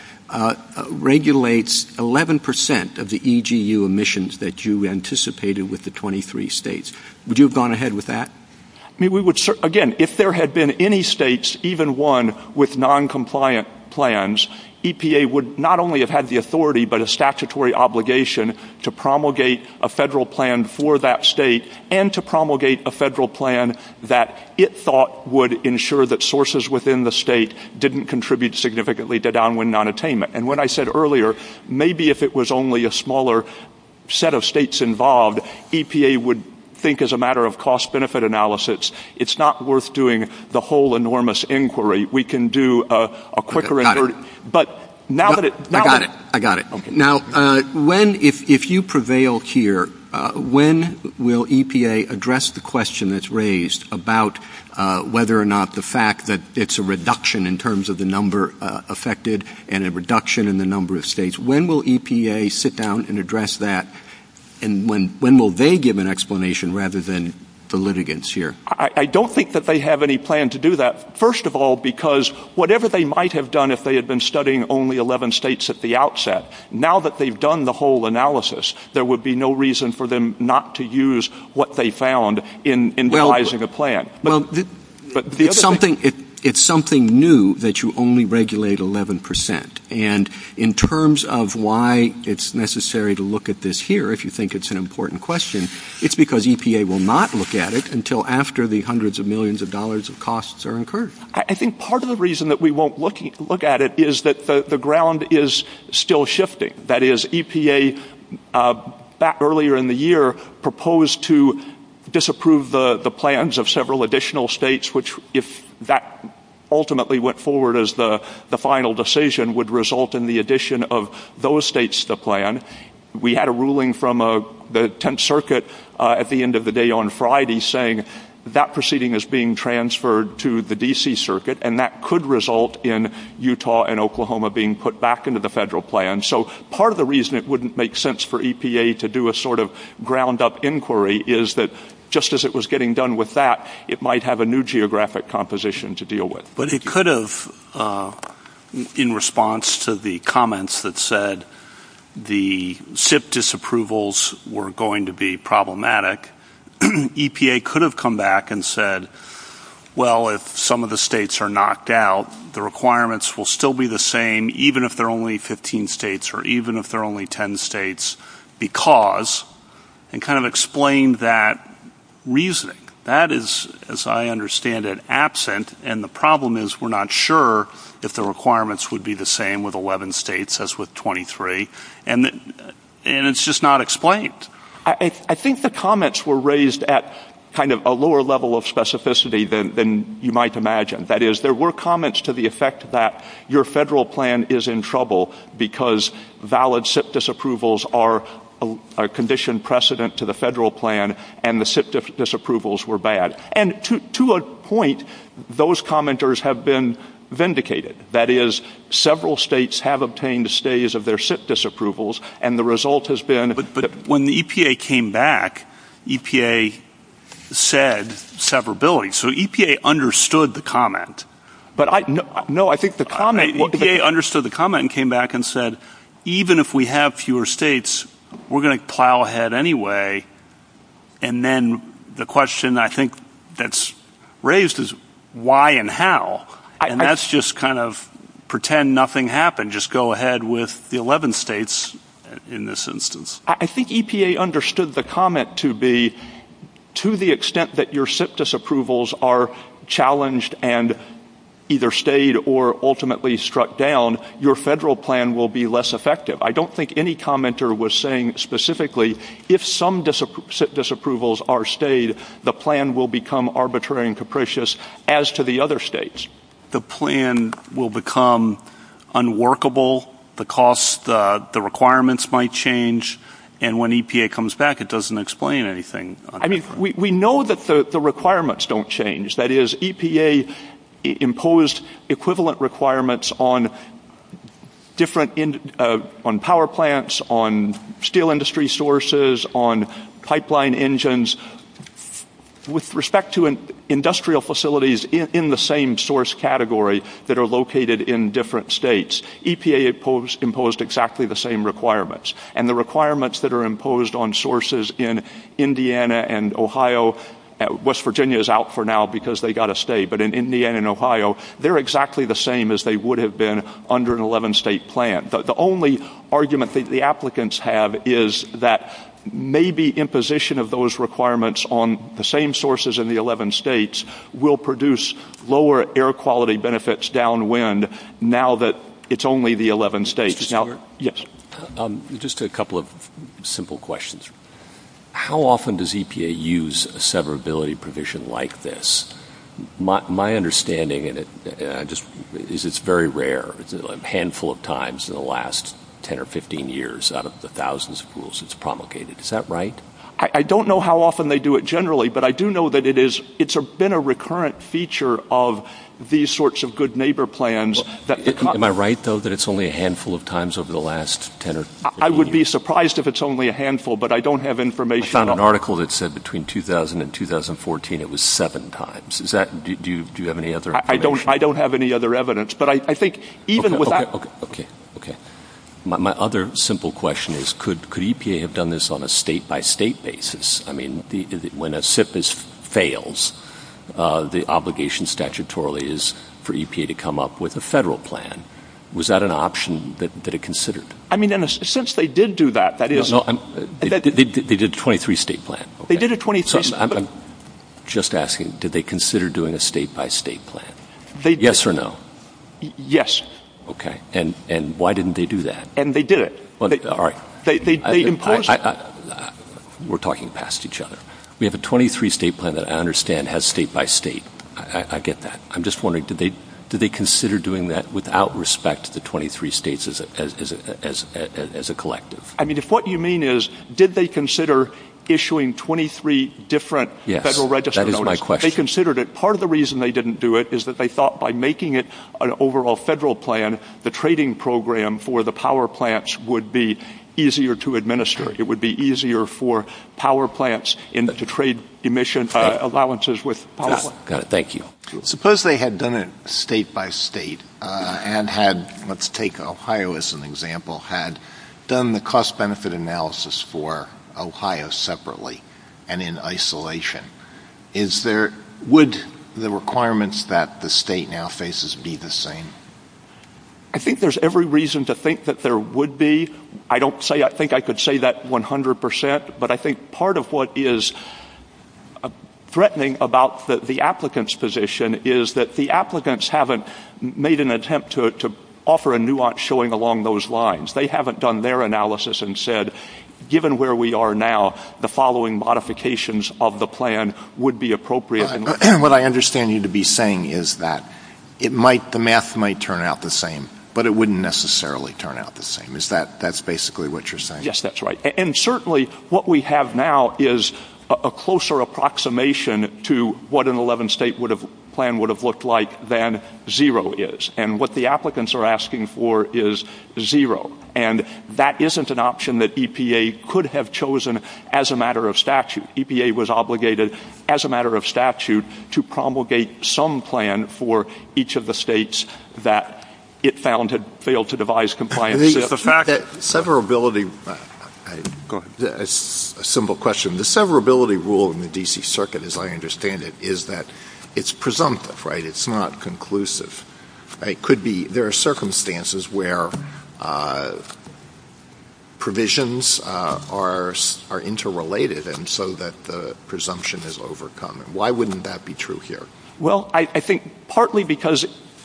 regulates 11% of the EGU emissions that you anticipated with the 23 states, would you have gone ahead with that? Again, if there had been any states, even one, with noncompliant plans, EPA would not only have had the authority but a statutory obligation to promulgate a federal plan for that state and to promulgate a federal plan that it thought would ensure that sources within the state didn't contribute significantly to downwind nonattainment. And what I said earlier, maybe if it was only a smaller set of states involved, EPA would think as a matter of cost-benefit analysis, it's not worth doing the whole enormous inquiry. We can do a quicker inquiry. I got it. I got it. Okay. Now, if you prevail here, when will EPA address the question that's raised about whether or not the fact that it's a reduction in terms of the number affected and a reduction in the number of states, when will EPA sit down and address that and when will they give an explanation rather than the litigants here? I don't think that they have any plan to do that, first of all, because whatever they might have done if they had been studying only 11 states at the outset, now that they've done the whole analysis, there would be no reason for them not to use what they found in devising a plan. Well, it's something new that you only regulate 11%, and in terms of why it's necessary to look at this here, if you think it's an important question, it's because EPA will not look at it until after the hundreds of millions of dollars of costs are incurred. I think part of the reason that we won't look at it is that the ground is still shifting. That is, EPA back earlier in the year proposed to disapprove the plans of several additional states, which if that ultimately went forward as the final decision would result in the addition of those states to the plan. We had a ruling from the Tenth Circuit at the end of the day on Friday saying that that proceeding is being transferred to the D.C. Circuit, and that could result in Utah and Oklahoma being put back into the federal plan. So part of the reason it wouldn't make sense for EPA to do a sort of ground-up inquiry is that just as it was getting done with that, it might have a new geographic composition to deal with. But it could have, in response to the comments that said the SIP disapprovals were going to be problematic, EPA could have come back and said, well, if some of the states are knocked out, the requirements will still be the same even if there are only 15 states or even if there are only 10 states because, and kind of explained that reasoning. That is, as I understand it, absent, and the problem is we're not sure if the requirements would be the same with 11 states as with 23, and it's just not explained. I think the comments were raised at kind of a lower level of specificity than you might imagine. That is, there were comments to the effect that your federal plan is in trouble because valid SIP disapprovals are a conditioned precedent to the federal plan, and the SIP disapprovals were bad. And to a point, those commenters have been vindicated. That is, several states have obtained stays of their SIP disapprovals, and the SIP disapprovals are bad. When the EPA came back, EPA said severability. So EPA understood the comment. No, I think the comment... EPA understood the comment and came back and said, even if we have fewer states, we're going to plow ahead anyway, and then the question I think that's raised is why and how, and that's just kind of pretend nothing happened, just go ahead with the 11 states in this instance. I think EPA understood the comment to be, to the extent that your SIP disapprovals are challenged and either stayed or ultimately struck down, your federal plan will be less effective. I don't think any commenter was saying specifically, if some SIP disapprovals are stayed, the plan will become arbitrary and capricious as to the other states. The plan will become unworkable. The cost, the requirements might change, and when EPA comes back, it doesn't explain anything. I mean, we know that the requirements don't change. That is, EPA imposed equivalent requirements on different, on power plants, on steel industry sources, on pipeline engines. With respect to industrial facilities in the same source category that are located in different states, EPA imposed exactly the same requirements, and the requirements that are imposed on sources in Indiana and Ohio, West Virginia is out for now because they got to stay, but in Indiana and Ohio, they're exactly the same as they would have been under an 11-state plan. The only argument that the applicants have is that maybe imposition of those requirements on the same sources in the 11 states will produce lower air quality benefits downwind now that it's only the 11 states. Yes. Just a couple of simple questions. How often does EPA use a severability provision like this? My understanding is it's very rare, a handful of times in the last 10 or 15 years out of the thousands of rules it's promulgated. Is that right? I don't know how often they do it generally, but I do know that it's been a recurrent feature of these sorts of good neighbor plans. Am I right, though, that it's only a handful of times over the last 10 or 15 years? I would be surprised if it's only a handful, but I don't have information on it. I found an article that said between 2000 and 2014 it was seven times. Do you have any other information? I don't have any other evidence, but I think even with that... Okay. My other simple question is could EPA have done this on a state-by-state basis? I mean, when a SIFIS fails, the obligation statutorily is for EPA to come up with a federal plan. Was that an option that it considered? I mean, since they did do that, that is... They did a 23-state plan. They did a 23-state plan. I'm just asking, did they consider doing a state-by-state plan? Yes or no? Yes. Okay. And why didn't they do that? And they did it. All right. They imposed it. We're talking past each other. We have a 23-state plan that I understand has state-by-state. I get that. I'm just wondering, did they consider doing that without respect to the 23 states as a collective? I mean, if what you mean is did they consider issuing 23 different federal register notices? Yes. That is my question. They considered it. If they did not have an overall federal plan, the trading program for the power plants would be easier to administer. It would be easier for power plants to trade emission allowances with power plants. Got it. Thank you. Suppose they had done it state-by-state and had, let's take Ohio as an example, had done the cost-benefit analysis for Ohio separately and in isolation. Would the requirements that the state now faces be the same? I think there's every reason to think that there would be. I don't think I could say that 100 percent, but I think part of what is threatening about the applicant's position is that the applicants haven't made an attempt to offer a nuance showing along those lines. They haven't done their analysis and said, given where we are now, the following modifications of the plan would be appropriate. And what I understand you to be saying is that the math might turn out the same, but it wouldn't necessarily turn out the same. Is that basically what you're saying? Yes, that's right. And certainly what we have now is a closer approximation to what an 11-state plan would have looked like than zero is. And what the applicants are asking for is zero. And that isn't an option that EPA could have chosen as a matter of statute. EPA was obligated, as a matter of statute, to promulgate some plan for each of the states that it found had failed to devise compliance. The fact that severability — go ahead. It's a simple question. The severability rule in the D.C. Circuit, as I understand it, is that it's presumptive, right? It's not conclusive. There are circumstances where provisions are interrelated so that the presumption is overcome. Why wouldn't that be true here? Well, I think partly because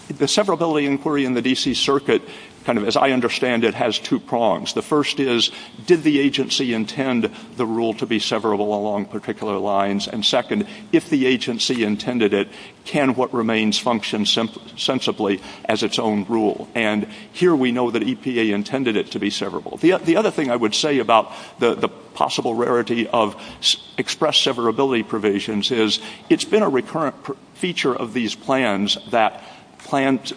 the severability inquiry in the D.C. Circuit, as I understand it, has two prongs. The first is, did the agency intend the rule to be severable along particular lines? And second, if the agency intended it, can what remains function sensibly as its own rule? And here we know that EPA intended it to be severable. The other thing I would say about the possible rarity of expressed severability provisions is, it's been a recurrent feature of these plans that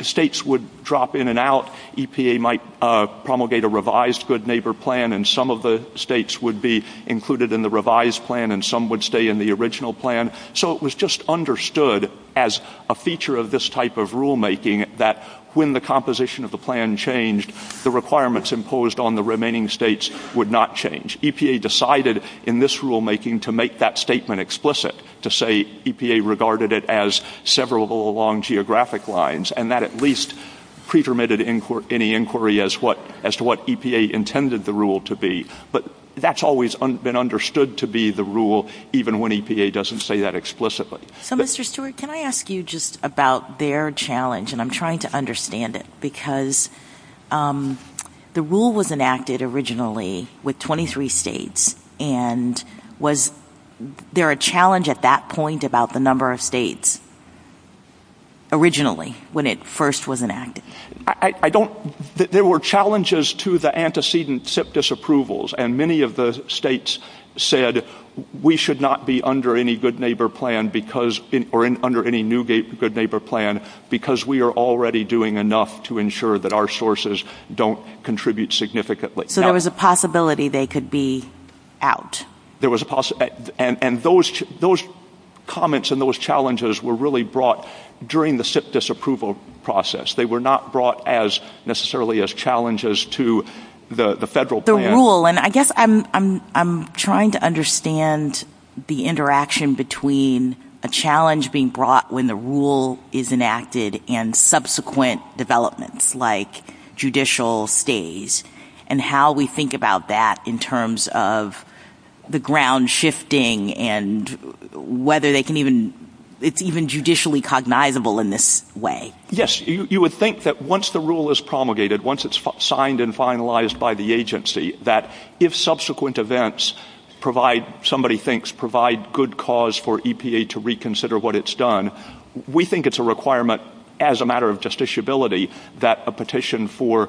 states would drop in and out. EPA might promulgate a revised good neighbor plan, and some of the states would be included in the revised plan, and some would stay in the original plan. So it was just understood as a feature of this type of rulemaking that when the composition of the plan changed, the requirements imposed on the remaining states would not change. EPA decided in this rulemaking to make that statement explicit, to say EPA regarded it as severable along geographic lines, and that at least pre-permitted any inquiry as to what EPA intended the rule to be. But that's always been understood to be the rule, even when EPA doesn't say that explicitly. So, Mr. Stewart, can I ask you just about their challenge, and I'm trying to understand it, because the rule was enacted originally with 23 states, and was there a challenge at that point about the number of states originally, when it first was enacted? There were challenges to the antecedent SIP disapprovals, and many of the states said we should not be under any good neighbor plan, or under any new good neighbor plan, because we are already doing enough to ensure that our sources don't contribute significantly. So there was a possibility they could be out. There was a possibility, and those comments and those challenges were really brought during the SIP disapproval process. They were not brought necessarily as challenges to the federal plan. The rule, and I guess I'm trying to understand the interaction between a challenge being brought when the rule is enacted, and subsequent developments, like judicial stays, and how we think about that in terms of the ground shifting, and whether they can even, it's even judicially cognizable in this way. Yes, you would think that once the rule is promulgated, once it's signed and finalized by the agency, that if subsequent events provide, somebody thinks provide good cause for EPA to reconsider what it's done, we think it's a requirement as a matter of justiciability that a petition for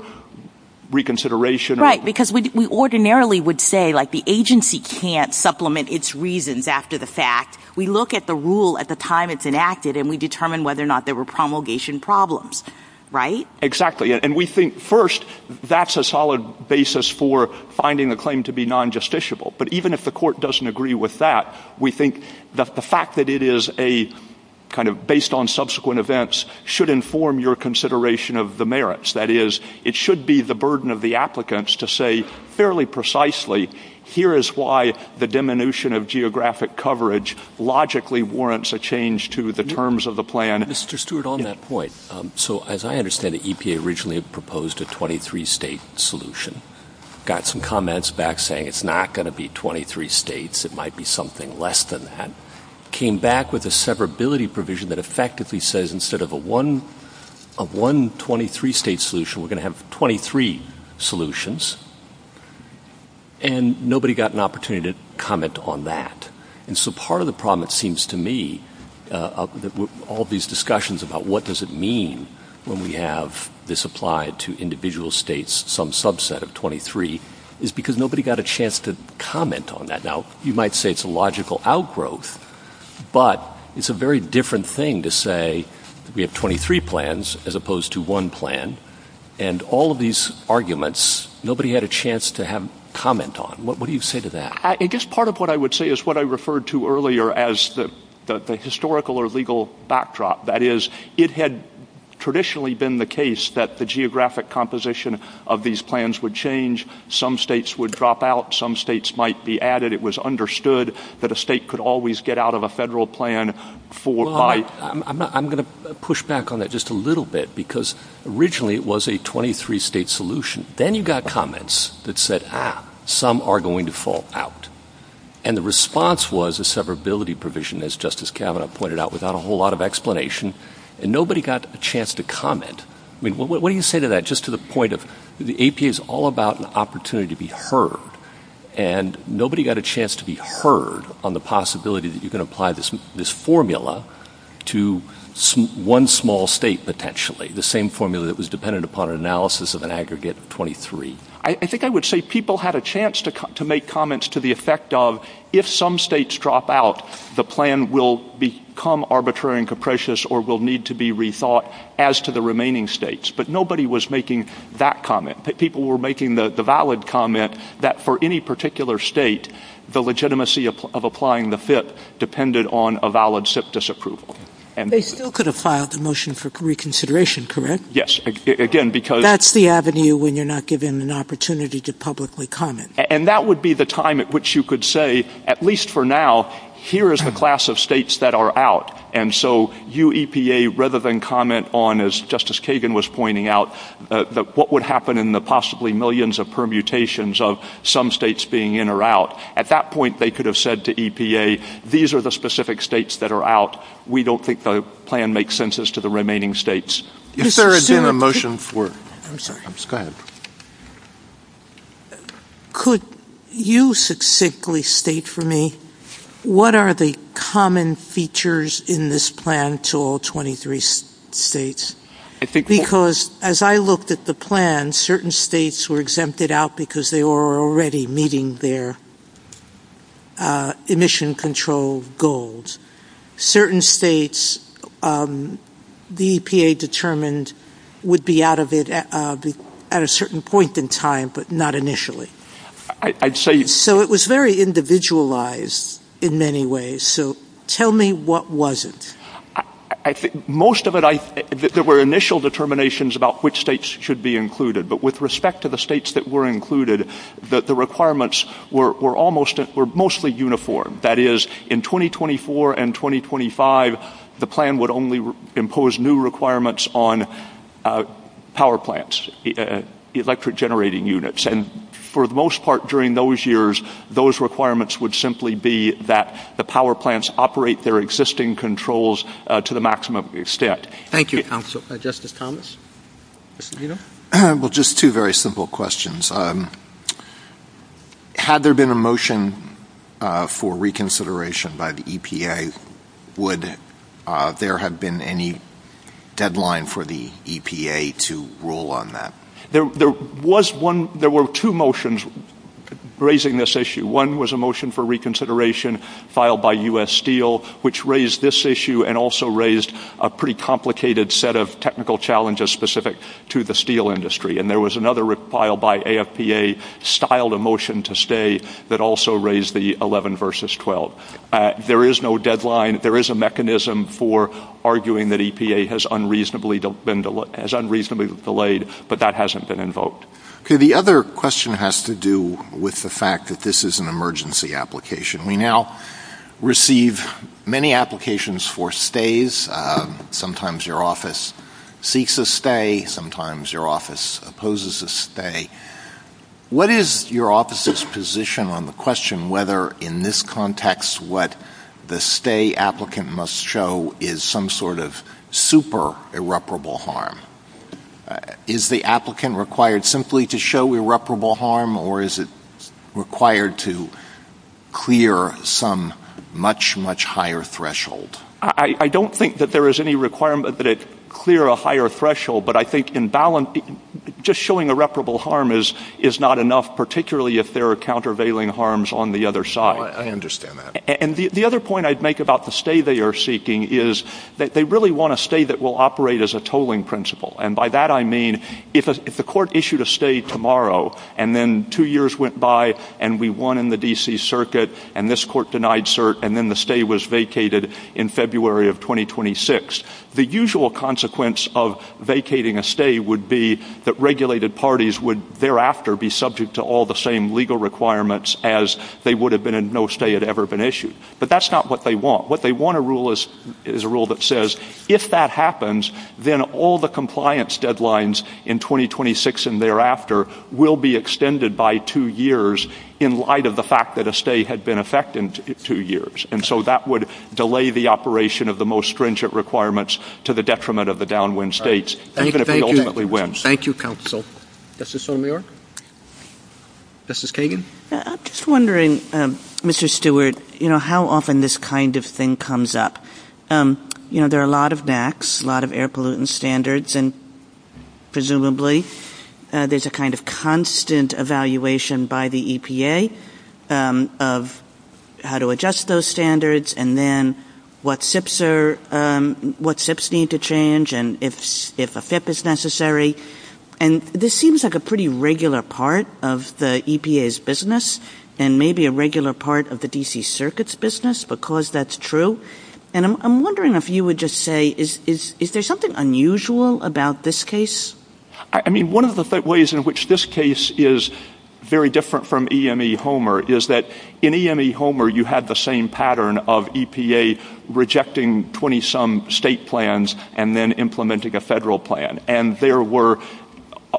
reconsideration. Right, because we ordinarily would say like the agency can't supplement its reasons after the fact. We look at the rule at the time it's enacted, and we determine whether or not there were promulgation problems, right? Exactly, and we think first, that's a solid basis for finding a claim to be non-justiciable. But even if the court doesn't agree with that, we think that the fact that it is a kind of based on subsequent events should inform your consideration of the merits. That is, it should be the burden of the applicants to say fairly precisely, here is why the diminution of geographic coverage logically warrants a change to the terms of the plan. Mr. Stewart, on that point, so as I understand it, EPA originally proposed a 23-state solution, got some comments back saying it's not going to be 23 states, it might be something less than that, came back with a severability provision that effectively says instead of one 23-state solution, we're going to have 23 solutions, and nobody got an opportunity to comment on that. And so part of the problem, it seems to me, all these discussions about what does it mean when we have this applied to individual states, some subset of 23, is because nobody got a chance to comment on that. Now, you might say it's a logical outgrowth, but it's a very different thing to say we have 23 plans as opposed to one plan, and all of these arguments, nobody had a chance to comment on. What do you say to that? I guess part of what I would say is what I referred to earlier as the historical or legal backdrop. That is, it had traditionally been the case that the geographic composition of these plans would change, some states would drop out, some states might be added, it was understood that a state could always get out of a federal plan. I'm going to push back on that just a little bit because originally it was a 23-state solution. Then you got comments that said, ah, some are going to fall out, and the response was a severability provision, as Justice Kavanaugh pointed out, without a whole lot of explanation, and nobody got a chance to comment. I mean, what do you say to that? Just to the point of the APA is all about an opportunity to be heard, and nobody got a chance to be heard on the possibility that you can apply this formula to one small state potentially, the same formula that was dependent upon an analysis of an aggregate of 23. I think I would say people had a chance to make comments to the effect of, if some states drop out, the plan will become arbitrary and capricious or will need to be rethought as to the remaining states. But nobody was making that comment. People were making the valid comment that for any particular state, the legitimacy of applying the FIP depended on a valid SIPP disapproval. They still could have filed a motion for reconsideration, correct? Yes. That's the avenue when you're not given an opportunity to publicly comment. And that would be the time at which you could say, at least for now, here is the class of states that are out. And so you, EPA, rather than comment on, as Justice Kagan was pointing out, what would happen in the possibly millions of permutations of some states being in or out, at that point they could have said to EPA, these are the specific states that are out. We don't think the plan makes sense as to the remaining states. Is there a motion for? I'm sorry. Go ahead. Could you succinctly state for me what are the common features in this plan to all 23 states? Because as I looked at the plan, certain states were exempted out because they were already meeting their emission control goals. Certain states, the EPA determined, would be out of it at a certain point in time, but not initially. So it was very individualized in many ways. So tell me what wasn't. Most of it, there were initial determinations about which states should be included. But with respect to the states that were included, the requirements were mostly uniform. That is, in 2024 and 2025, the plan would only impose new requirements on power plants, electric generating units. And for the most part during those years, those requirements would simply be that the power plants operate their existing controls to the maximum extent. Thank you, counsel. Justice Thomas? Well, just two very simple questions. Had there been a motion for reconsideration by the EPA, would there have been any deadline for the EPA to rule on that? There were two motions raising this issue. One was a motion for reconsideration filed by U.S. Steel, which raised this issue and also raised a pretty complicated set of technical challenges specific to the steel industry. And there was another file by AFPA, styled a motion to stay, that also raised the 11 versus 12. There is no deadline. There is a mechanism for arguing that EPA has unreasonably delayed, but that hasn't been invoked. Okay. The other question has to do with the fact that this is an emergency application. We now receive many applications for stays. Sometimes your office seeks a stay. Sometimes your office opposes a stay. What is your office's position on the question whether, in this context, what the stay applicant must show is some sort of super irreparable harm? Is the applicant required simply to show irreparable harm, or is it required to clear some much, much higher threshold? I don't think that there is any requirement that it clear a higher threshold, but I think just showing irreparable harm is not enough, particularly if there are countervailing harms on the other side. I understand that. And the other point I'd make about the stay they are seeking is that they really want a stay that will operate as a tolling principle. And by that I mean if the court issued a stay tomorrow and then two years went by and we in February of 2026, the usual consequence of vacating a stay would be that regulated parties would thereafter be subject to all the same legal requirements as they would have been if no stay had ever been issued. But that's not what they want. What they want is a rule that says if that happens, then all the compliance deadlines in 2026 and thereafter will be extended by two years in light of the fact that a stay had been effective in two years. And so that would delay the operation of the most stringent requirements to the detriment of the downwind states, even if it ultimately wins. Thank you, counsel. Justice O'Meara? Justice Kagan? I'm just wondering, Mr. Stewart, how often this kind of thing comes up. There are a lot of NACs, a lot of air pollutant standards, and presumably there's a kind of and then what SIPs need to change and if a FIP is necessary. And this seems like a pretty regular part of the EPA's business and maybe a regular part of the D.C. Circuit's business, because that's true. And I'm wondering if you would just say, is there something unusual about this case? I mean, one of the ways in which this case is very different from EME Homer is that in there was a pattern of EPA rejecting 20-some state plans and then implementing a federal plan. And there were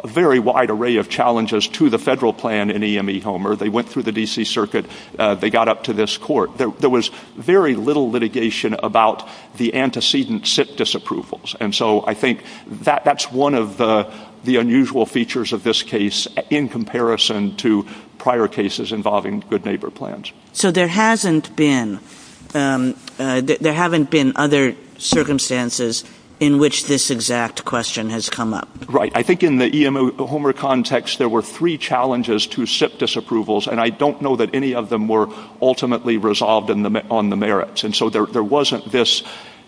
a very wide array of challenges to the federal plan in EME Homer. They went through the D.C. Circuit. They got up to this court. There was very little litigation about the antecedent SIP disapprovals. And so I think that's one of the unusual features of this case in comparison to prior cases involving good neighbor plans. So there hasn't been other circumstances in which this exact question has come up? Right. I think in the EME Homer context, there were three challenges to SIP disapprovals, and I don't know that any of them were ultimately resolved on the merits. And so there wasn't this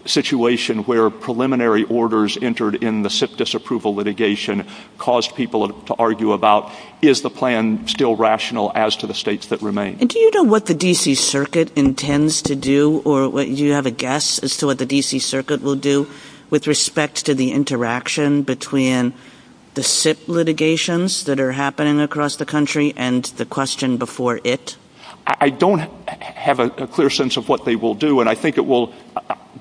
situation where preliminary orders entered in the SIP disapproval litigation caused people to argue about, is the plan still rational as to the states that remain? And do you know what the D.C. Circuit intends to do? Or do you have a guess as to what the D.C. Circuit will do with respect to the interaction between the SIP litigations that are happening across the country and the question before it? I don't have a clear sense of what they will do, and I think it will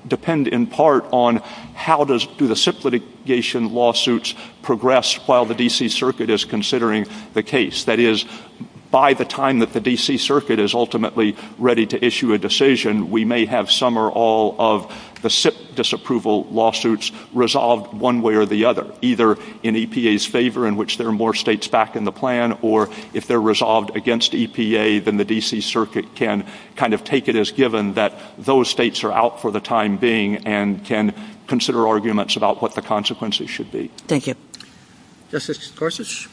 depend in part on how do the SIP litigation lawsuits progress while the D.C. Circuit is considering the case? That is, by the time that the D.C. Circuit is ultimately ready to issue a decision, we may have some or all of the SIP disapproval lawsuits resolved one way or the other, either in EPA's favor, in which there are more states back in the plan, or if they're resolved against EPA, then the D.C. Circuit can kind of take it as given that those states are out for the time being and can consider arguments about what the consequences should be. Thank you. Justice Gorsuch?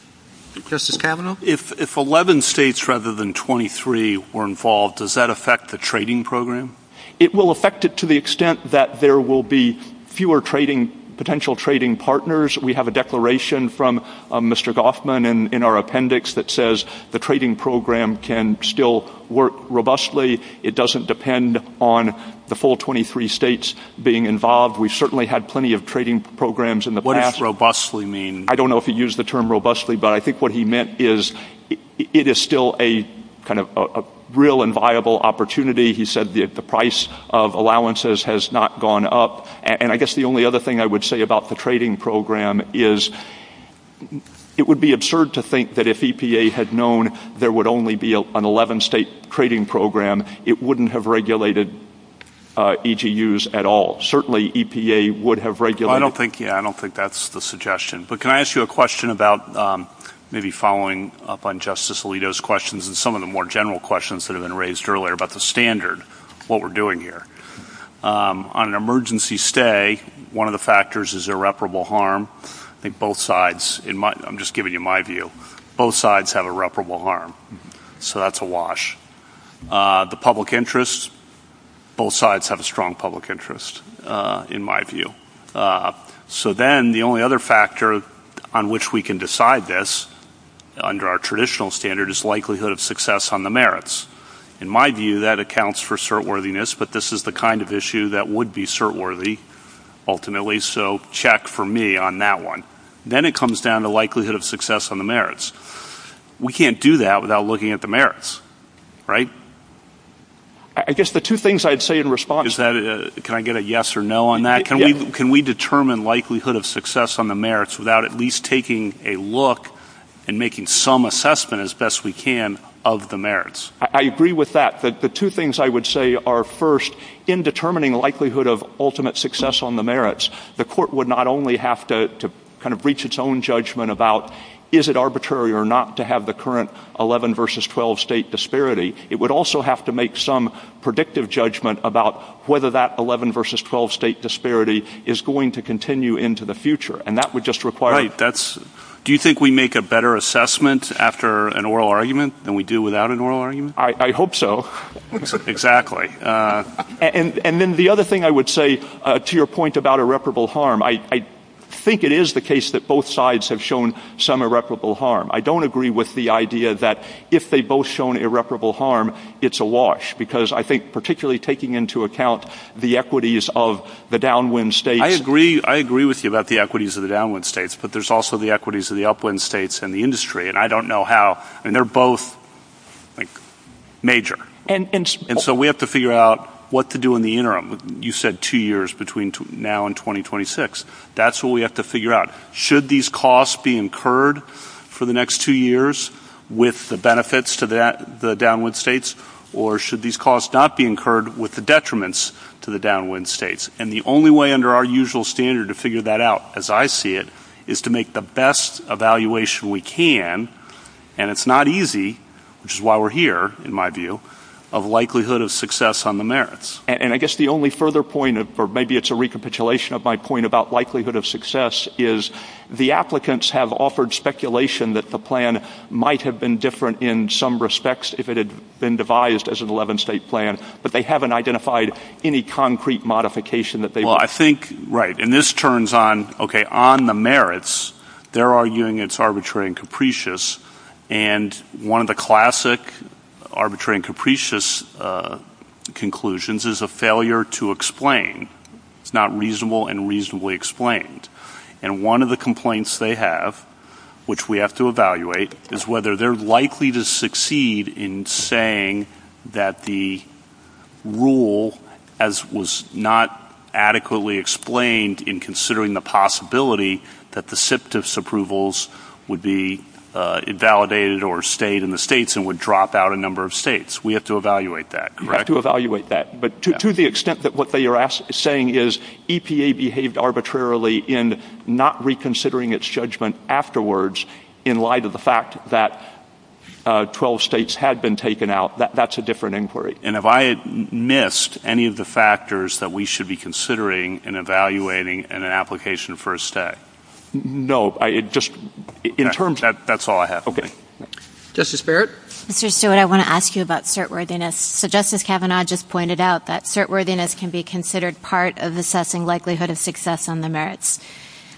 Justice Kavanaugh? If 11 states rather than 23 were involved, does that affect the trading program? It will affect it to the extent that there will be fewer potential trading partners. We have a declaration from Mr. Goffman in our appendix that says the trading program can still work robustly. It doesn't depend on the full 23 states being involved. We've certainly had plenty of trading programs in the past. What does robustly mean? I don't know if he used the term robustly, but I think what he meant is it is still a real and viable opportunity. He said the price of allowances has not gone up. And I guess the only other thing I would say about the trading program is it would be absurd to think that if EPA had known there would only be an 11-state trading program, it wouldn't have regulated EGUs at all. Certainly EPA would have regulated them. I don't think that's the suggestion. But can I ask you a question about maybe following up on Justice Alito's questions and some of the more general questions that have been raised earlier about the standard, what we're doing here. On an emergency stay, one of the factors is irreparable harm. I'm just giving you my view. Both sides have irreparable harm. So that's a wash. The public interest, both sides have a strong public interest in my view. So then the only other factor on which we can decide this under our traditional standard is likelihood of success on the merits. In my view, that accounts for cert-worthiness, but this is the kind of issue that would be cert-worthy ultimately, so check for me on that one. Then it comes down to likelihood of success on the merits. We can't do that without looking at the merits, right? I guess the two things I'd say in response to that, can I get a yes or no on that? Can we determine likelihood of success on the merits without at least taking a look and making some assessment as best we can of the merits? I agree with that. The two things I would say are, first, in determining likelihood of ultimate success on the merits, the court would not only have to kind of reach its own judgment about is it arbitrary or not to have the current 11 versus 12 state disparity, it would also have to make some predictive judgment about whether that 11 versus 12 state disparity is going to continue into the future, and that would just require- Right. Do you think we make a better assessment after an oral argument than we do without an oral argument? I hope so. Exactly. And then the other thing I would say, to your point about irreparable harm, I think it is the case that both sides have shown some irreparable harm. I don't agree with the idea that if they've both shown irreparable harm, it's a wash, because I think particularly taking into account the equities of the downwind states- I agree with you about the equities of the downwind states, but there's also the equities of the upwind states and the industry, and I don't know how, and they're both major. And so we have to figure out what to do in the interim. You said two years between now and 2026. That's what we have to figure out. Should these costs be incurred for the next two years with the benefits to the downwind states, or should these costs not be incurred with the detriments to the downwind states? And the only way under our usual standard to figure that out, as I see it, is to make the best evaluation we can, and it's not easy, which is why we're here, in my view, of likelihood of success on the merits. And I guess the only further point, or maybe it's a recapitulation of my point about likelihood of success, is the applicants have offered speculation that the plan might have been different in some respects if it had been devised as an 11-state plan, but they haven't identified any concrete modification that they've- Well, I think, right, and this turns on, okay, on the merits, they're arguing it's arbitrary and capricious, and one of the classic arbitrary and capricious conclusions is a failure to explain. It's not reasonable and reasonably explained. And one of the complaints they have, which we have to evaluate, is whether they're likely to succeed in saying that the rule, as was not adequately explained, in considering the possibility that the SIPTF's approvals would be validated or stayed in the states and would drop out a number of states. We have to evaluate that, correct? We have to evaluate that. But to the extent that what they are saying is EPA behaved arbitrarily in not reconsidering its judgment afterwards in light of the fact that 12 states had been taken out, that's a different inquiry. And have I missed any of the factors that we should be considering in evaluating an application for a state? No, it just- In terms of- That's all I have for you. Okay. Justice Barrett? Mr. Stewart, I want to ask you about certworthiness. So Justice Kavanaugh just pointed out that certworthiness can be considered part of assessing likelihood of success on the merits.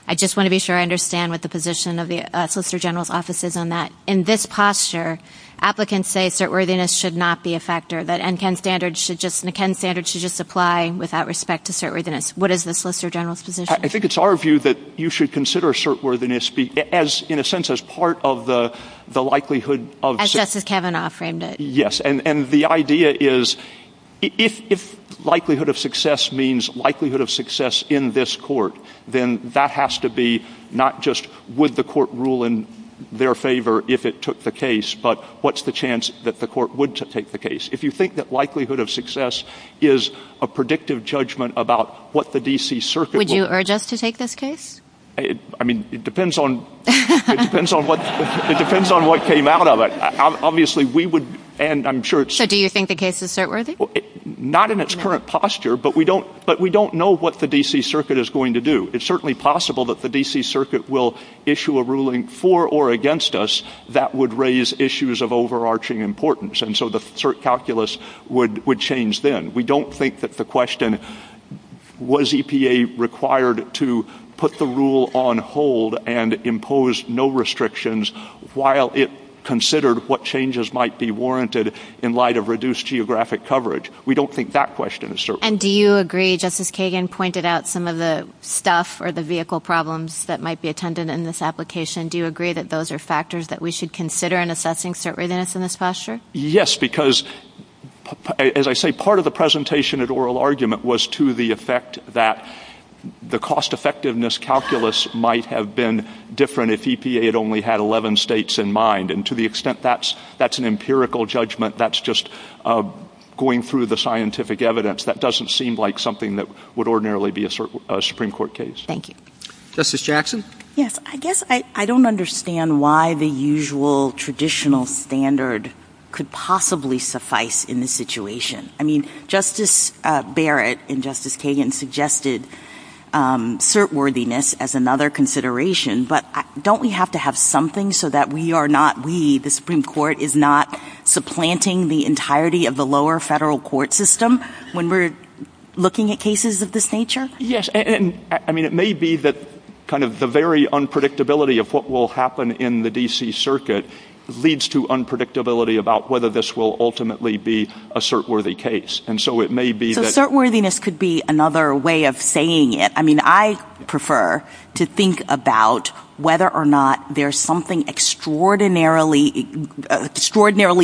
I just want to be sure I understand what the position of the Solicitor General's Office is on that. In this posture, applicants say certworthiness should not be a factor, that M-10 standards should just apply without respect to certworthiness. What is the Solicitor General's position? I think it's our view that you should consider certworthiness in a sense as part of the likelihood of- As Justice Kavanaugh framed it. Yes. And the idea is if likelihood of success means likelihood of success in this court, then that has to be not just would the court rule in their favor if it took the case, but what's the chance that the court would take the case? If you think that likelihood of success is a predictive judgment about what the D.C. Circuit will- Would you urge us to take this case? I mean, it depends on what came out of it. Obviously, we would- So do you think the case is certworthy? Not in its current posture, but we don't know what the D.C. Circuit is going to do. It's certainly possible that the D.C. Circuit will issue a ruling for or against us that would raise issues of overarching importance, and so the calculus would change then. We don't think that the question, was EPA required to put the rule on hold and impose no restrictions while it considered what changes might be warranted in light of reduced geographic coverage. We don't think that question is certain. And do you agree, just as Kagan pointed out, some of the stuff or the vehicle problems that might be attended in this application, do you agree that those are factors that we should consider in assessing certworthiness in this posture? Yes, because as I say, part of the presentation and oral argument was to the effect that the cost-effectiveness calculus might have been different if EPA had only had 11 states in mind, and to the extent that's an empirical judgment, that's just going through the scientific evidence. That doesn't seem like something that would ordinarily be a Supreme Court case. Thank you. Justice Jackson? Yes, I guess I don't understand why the usual traditional standard could possibly suffice in this situation. I mean, Justice Barrett and Justice Kagan suggested certworthiness as another consideration, but don't we have to have something so that we, the Supreme Court, is not supplanting the entirety of the lower federal court system when we're looking at cases of this nature? Yes, and I mean, it may be that kind of the very unpredictability of what will happen in the D.C. Circuit leads to unpredictability about whether this will ultimately be a certworthy case, and so it may be that- So certworthiness could be another way of saying it. I mean, I prefer to think about whether or not there's something extraordinarily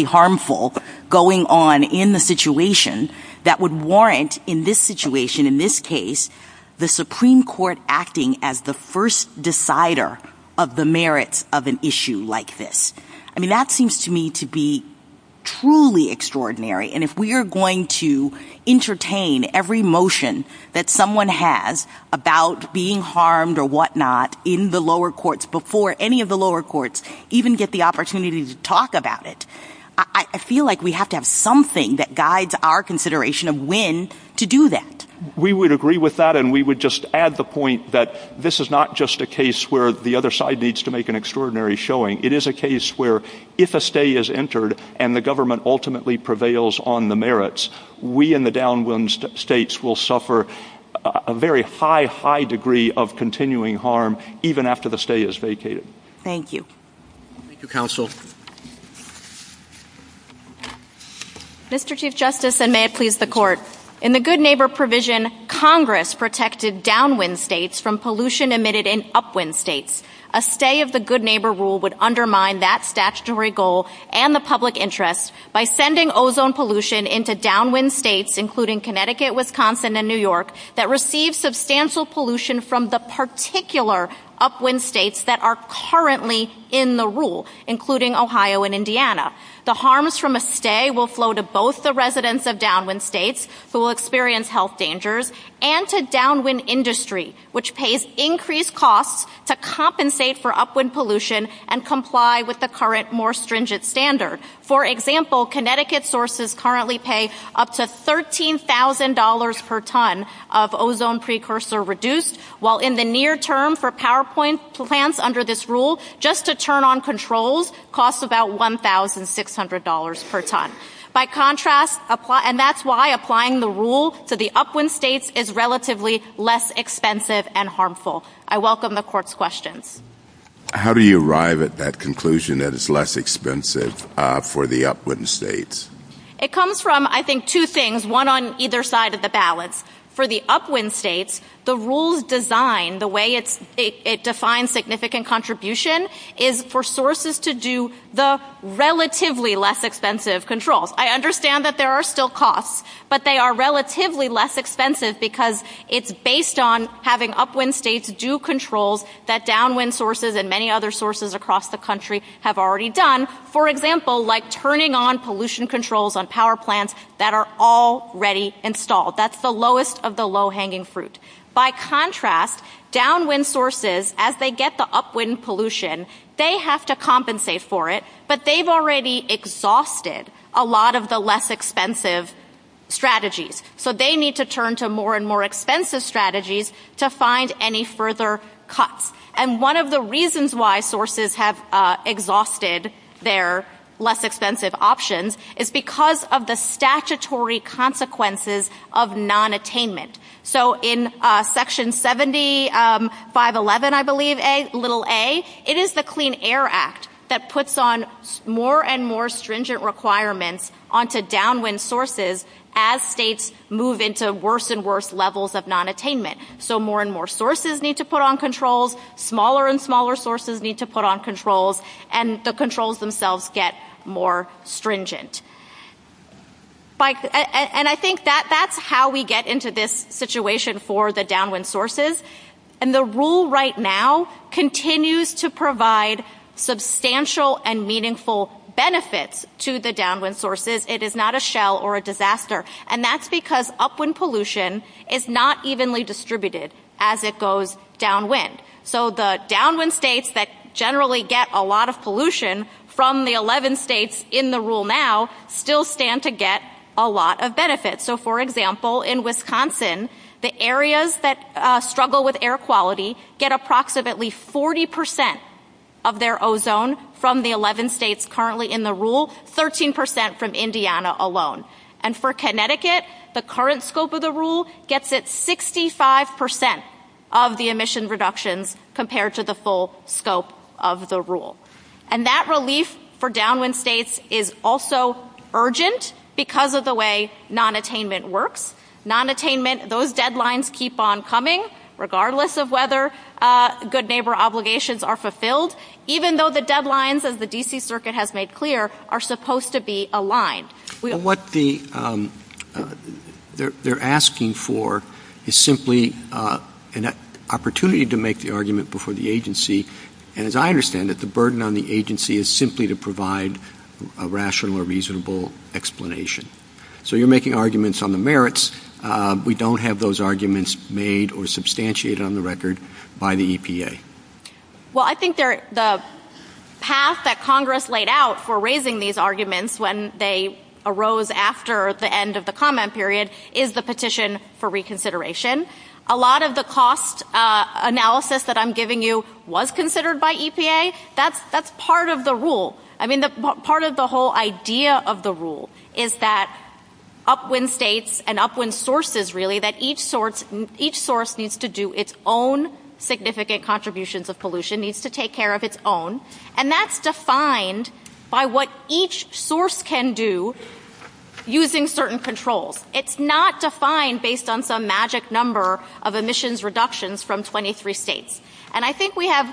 harmful going on in the situation that would warrant in this situation, in this case, the Supreme Court acting as the first decider of the merits of an issue like this. I mean, that seems to me to be truly extraordinary, and if we are going to entertain every motion that someone has about being harmed or whatnot in the lower courts before any of the lower courts even get the opportunity to talk about it, I feel like we have to have something that guides our consideration of when to do that. We would agree with that, and we would just add the point that this is not just a case where the other side needs to make an extraordinary showing. It is a case where if a stay is entered and the government ultimately prevails on the merits, we in the downwind states will suffer a very high, high degree of continuing harm even after the stay is vacated. Thank you. Thank you, Counsel. Mr. Chief Justice, and may it please the Court, in the Good Neighbor provision, Congress protected downwind states from pollution emitted in upwind states. A stay of the Good Neighbor rule would undermine that statutory goal and the public interest by sending ozone pollution into downwind states, including Connecticut, Wisconsin, and New York, that receive substantial pollution from the particular upwind states that are currently in the rule, including Ohio and Indiana. The harms from a stay will flow to both the residents of downwind states who will experience health dangers and to downwind industry, which pays increased costs to compensate for upwind pollution and comply with the current more stringent standard. For example, Connecticut sources currently pay up to $13,000 per ton of ozone precursor reduced, while in the near term, for PowerPoint plans under this rule, just to turn on controls costs about $1,600 per ton. By contrast, and that's why applying the rule to the upwind states is relatively less expensive and harmful. I welcome the Court's questions. How do you arrive at that conclusion that it's less expensive for the upwind states? It comes from, I think, two things, one on either side of the balance. For the upwind states, the rules design, the way it defines significant contribution, is for sources to do the relatively less expensive controls. I understand that there are still costs, but they are relatively less expensive because it's based on having upwind states do controls that downwind sources and many other sources across the country have already done. For example, like turning on pollution controls on power plants that are already installed. That's the lowest of the low-hanging fruit. By contrast, downwind sources, as they get the upwind pollution, they have to compensate for it, but they've already exhausted a lot of the less expensive strategies. So they need to turn to more and more expensive strategies to find any further cuts. And one of the reasons why sources have exhausted their less expensive options is because of the statutory consequences of nonattainment. So in Section 7511, I believe, little a, it is the Clean Air Act that puts on more and more stringent requirements onto downwind sources as states move into worse and worse levels of nonattainment. So more and more sources need to put on controls, smaller and smaller sources need to put on controls, and the controls themselves get more stringent. And I think that's how we get into this situation for the downwind sources. And the rule right now continues to provide substantial and meaningful benefits to the downwind sources. It is not a shell or a disaster. And that's because upwind pollution is not evenly distributed as it goes downwind. So the downwind states that generally get a lot of pollution from the 11 states in the rule now still stand to get a lot of benefits. So, for example, in Wisconsin, the areas that struggle with air quality get approximately 40% of their ozone from the 11 states currently in the rule, 13% from Indiana alone. And for Connecticut, the current scope of the rule gets it 65% of the emission reduction compared to the full scope of the rule. And that relief for downwind states is also urgent because of the way nonattainment works. Nonattainment, those deadlines keep on coming, regardless of whether good neighbor obligations are fulfilled, even though the deadlines, as the D.C. Circuit has made clear, are supposed to be aligned. What they're asking for is simply an opportunity to make the argument before the agency. And as I understand it, the burden on the agency is simply to provide a rational or reasonable explanation. So you're making arguments on the merits. We don't have those arguments made or substantiated on the record by the EPA. Well, I think the path that Congress laid out for raising these arguments when they arose after the end of the comment period is the petition for reconsideration. A lot of the cost analysis that I'm giving you was considered by EPA. That's part of the rule. I mean, part of the whole idea of the rule is that upwind states and upwind sources, really, that each source needs to do its own significant contributions of pollution, needs to take care of its own. And that's defined by what each source can do using certain controls. It's not defined based on some magic number of emissions reductions from 23 states. And I think we have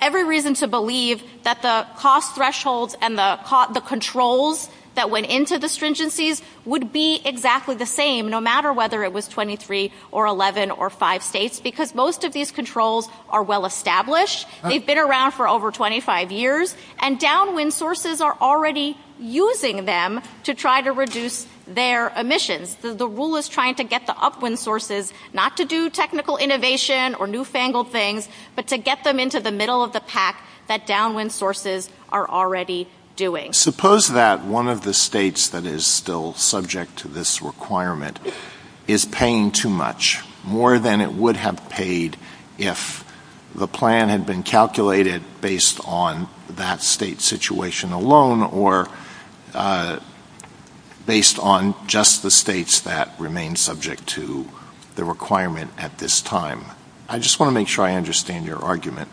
every reason to believe that the cost threshold and the controls that went into the stringencies would be exactly the same, no matter whether it was 23 or 11 or 5 states, because most of these controls are well-established. They've been around for over 25 years. And downwind sources are already using them to try to reduce their emissions. So the rule is trying to get the upwind sources not to do technical innovation or newfangled things, but to get them into the middle of the pack that downwind sources are already doing. Suppose that one of the states that is still subject to this requirement is paying too much, more than it would have paid if the plan had been calculated based on that state situation alone or based on just the states that remain subject to the requirement at this time. I just want to make sure I understand your argument,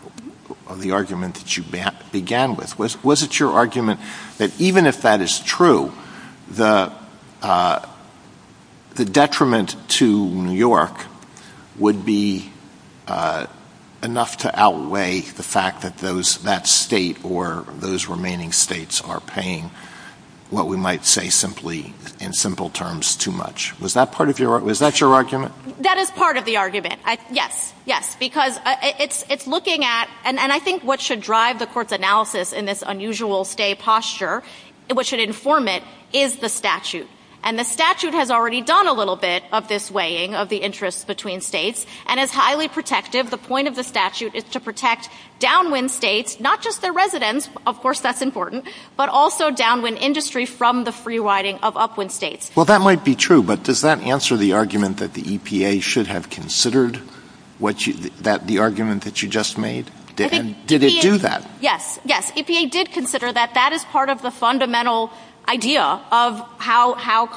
the argument that you began with. Was it your argument that even if that is true, the detriment to New York would be enough to outweigh the fact that that state or those remaining states are paying what we might say simply, in simple terms, too much? Was that your argument? That is part of the argument, yes. Yes, because it's looking at, and I think what should drive the court's analysis in this unusual stay posture, what should inform it, is the statute. And the statute has already done a little bit of this weighing of the interest between states. And it's highly protective. The point of the statute is to protect downwind states, not just their residents, of course that's important, but also downwind industry from the free-riding of upwind states. Well, that might be true, but does that answer the argument that the EPA should have considered the argument that you just made? Did it do that? Yes. Yes, EPA did consider that. That is part of the fundamental idea of how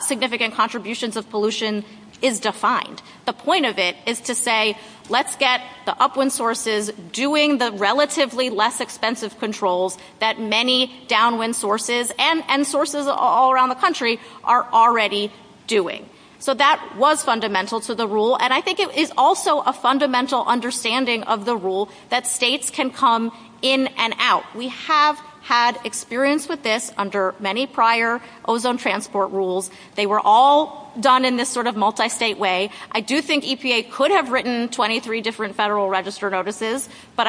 significant contributions of pollution is defined. The point of it is to say, let's get the upwind sources doing the relatively less expensive controls that many downwind sources and sources all around the country are already doing. So that was fundamental to the rule. And I think it is also a fundamental understanding of the rule that states can come in and out. We have had experience with this under many prior ozone transport rules. They were all done in this sort of multi-state way. I do think EPA could have written 23 different Federal Register notices, but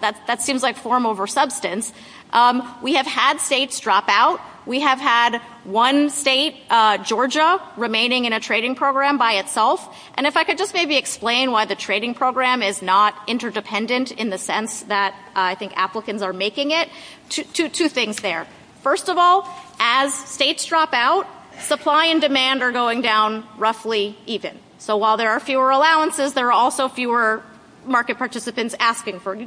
that seems like We have had states drop out. We have had one state, Georgia, remaining in a trading program by itself. And if I could just maybe explain why the trading program is not interdependent in the sense that I think applicants are making it. Two things there. First of all, as states drop out, supply and demand are going down roughly even. So while there are fewer allowances, there are also fewer market participants asking for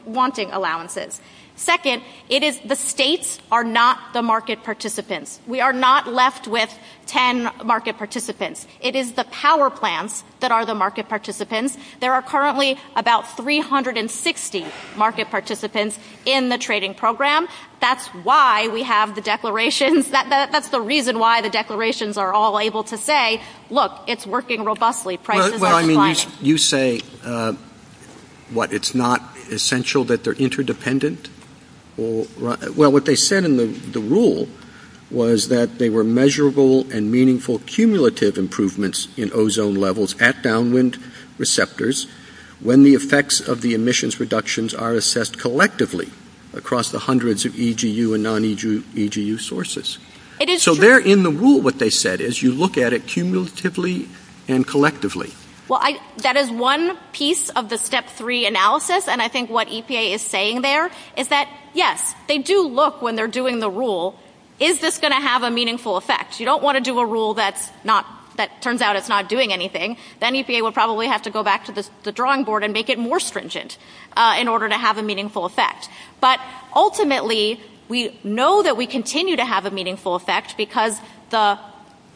Second, the states are not the market participants. We are not left with 10 market participants. It is the power plants that are the market participants. There are currently about 360 market participants in the trading program. That's why we have the declarations. That's the reason why the declarations are all able to say, look, it's working robustly. You say, what, it's not essential that they are interdependent? Well, what they said in the rule was that they were measurable and meaningful cumulative improvements in ozone levels at downwind receptors when the effects of the emissions reductions are assessed collectively across the hundreds of EGU and non-EGU sources. So there in the rule what they said is you look at it cumulatively and collectively. Well, that is one piece of the Step 3 analysis, and I think what EPA is saying there is that, yes, they do look when they are doing the rule, is this going to have a meaningful effect? You don't want to do a rule that turns out it's not doing anything. Then EPA will probably have to go back to the drawing board and make it more stringent in order to have a meaningful effect. But ultimately, we know that we continue to have a meaningful effect because the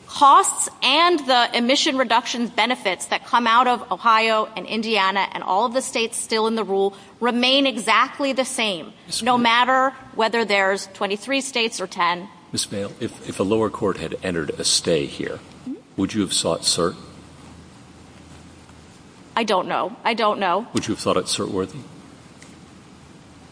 costs and the emission reduction benefits that come out of Ohio and Indiana and all of the states still in the rule remain exactly the same, no matter whether there's 23 states or 10. I don't know. I don't know. Would you have thought it cert-worthy?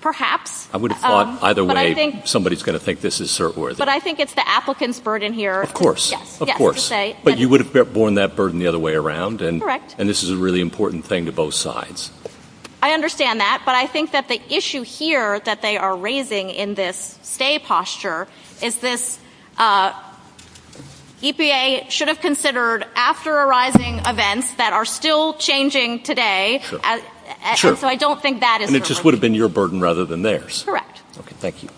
Perhaps. I would have thought either way somebody is going to think this is cert-worthy. But I think it's the applicant's burden here. Of course. But you would have borne that burden the other way around, and this is a really important thing to both sides. I understand that, but I think that the issue here that they are raising in this stay posture is this EPA should have considered after arising events that are still changing today. So I don't think that is right. And it just would have been your burden rather than theirs. Correct. Okay. Thank you.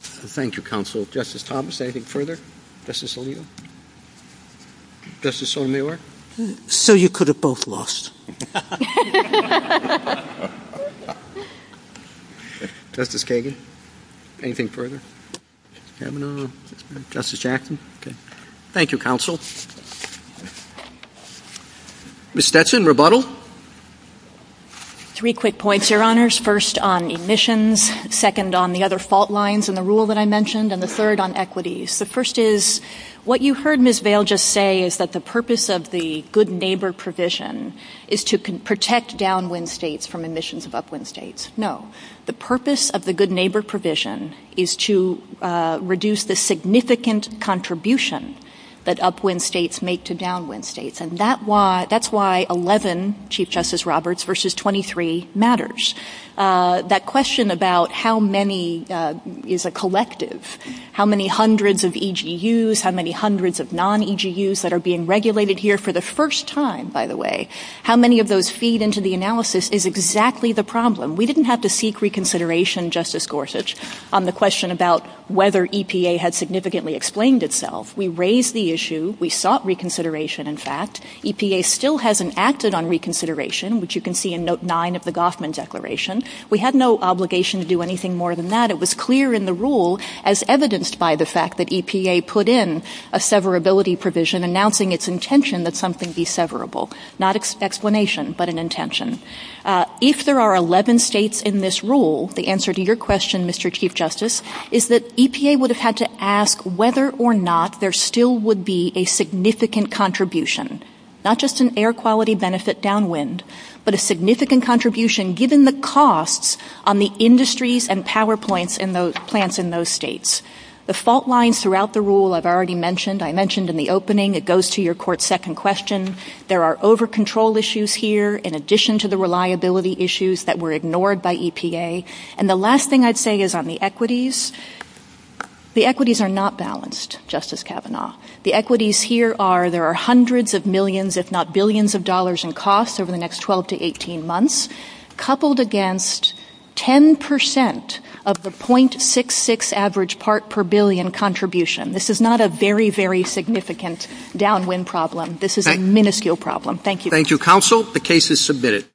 Thank you, counsel. Justice Thomas, anything further? Justice Aliyah? Justice Sotomayor? So you could have both lost. Justice Kagan, anything further? Justice Jackson? Okay. Thank you, counsel. Ms. Stetson, rebuttal? Three quick points, Your Honors. First, on emissions. Second, on the other fault lines in the rule that I mentioned. And the third, on equities. The first is, what you heard Ms. Vail just say is that the purpose of the good neighbor provision is to protect downwind states from emissions of upwind states. No. The purpose of the good neighbor provision is to reduce the significant contribution that upwind states make to downwind states. And that's why 11, Chief Justice Roberts, versus 23 matters. That question about how many is a collective, how many hundreds of EGUs, how many hundreds of non-EGUs that are being regulated here for the first time, by the way. How many of those feed into the analysis is exactly the problem. We didn't have to seek reconsideration, Justice Gorsuch, on the question about whether EPA had significantly explained itself. We raised the issue. We sought reconsideration, in fact. EPA still hasn't acted on reconsideration, which you can see in Note 9 of the Goffman Declaration. We had no obligation to do anything more than that. It was clear in the rule, as evidenced by the fact that EPA put in a severability provision announcing its intention that something be severable. Not an explanation, but an intention. If there are 11 states in this rule, the answer to your question, Mr. Chief Justice, is that EPA would have had to ask whether or not there still would be a significant contribution, not just an air quality benefit downwind, but a significant contribution given the costs on the industries and power plants in those states. The fault lines throughout the rule I've already mentioned. I mentioned in the opening. It goes to your court's second question. There are over-control issues here in addition to the reliability issues that were ignored by EPA. And the last thing I'd say is on the equities. The equities are not balanced, Justice Kavanaugh. The equities here are there are hundreds of millions, if not billions, of dollars in costs over the next 12 to 18 months, coupled against 10% of the .66 average part per billion contribution. This is not a very, very significant downwind problem. This is a minuscule problem. Thank you. Thank you, counsel. The case is submitted.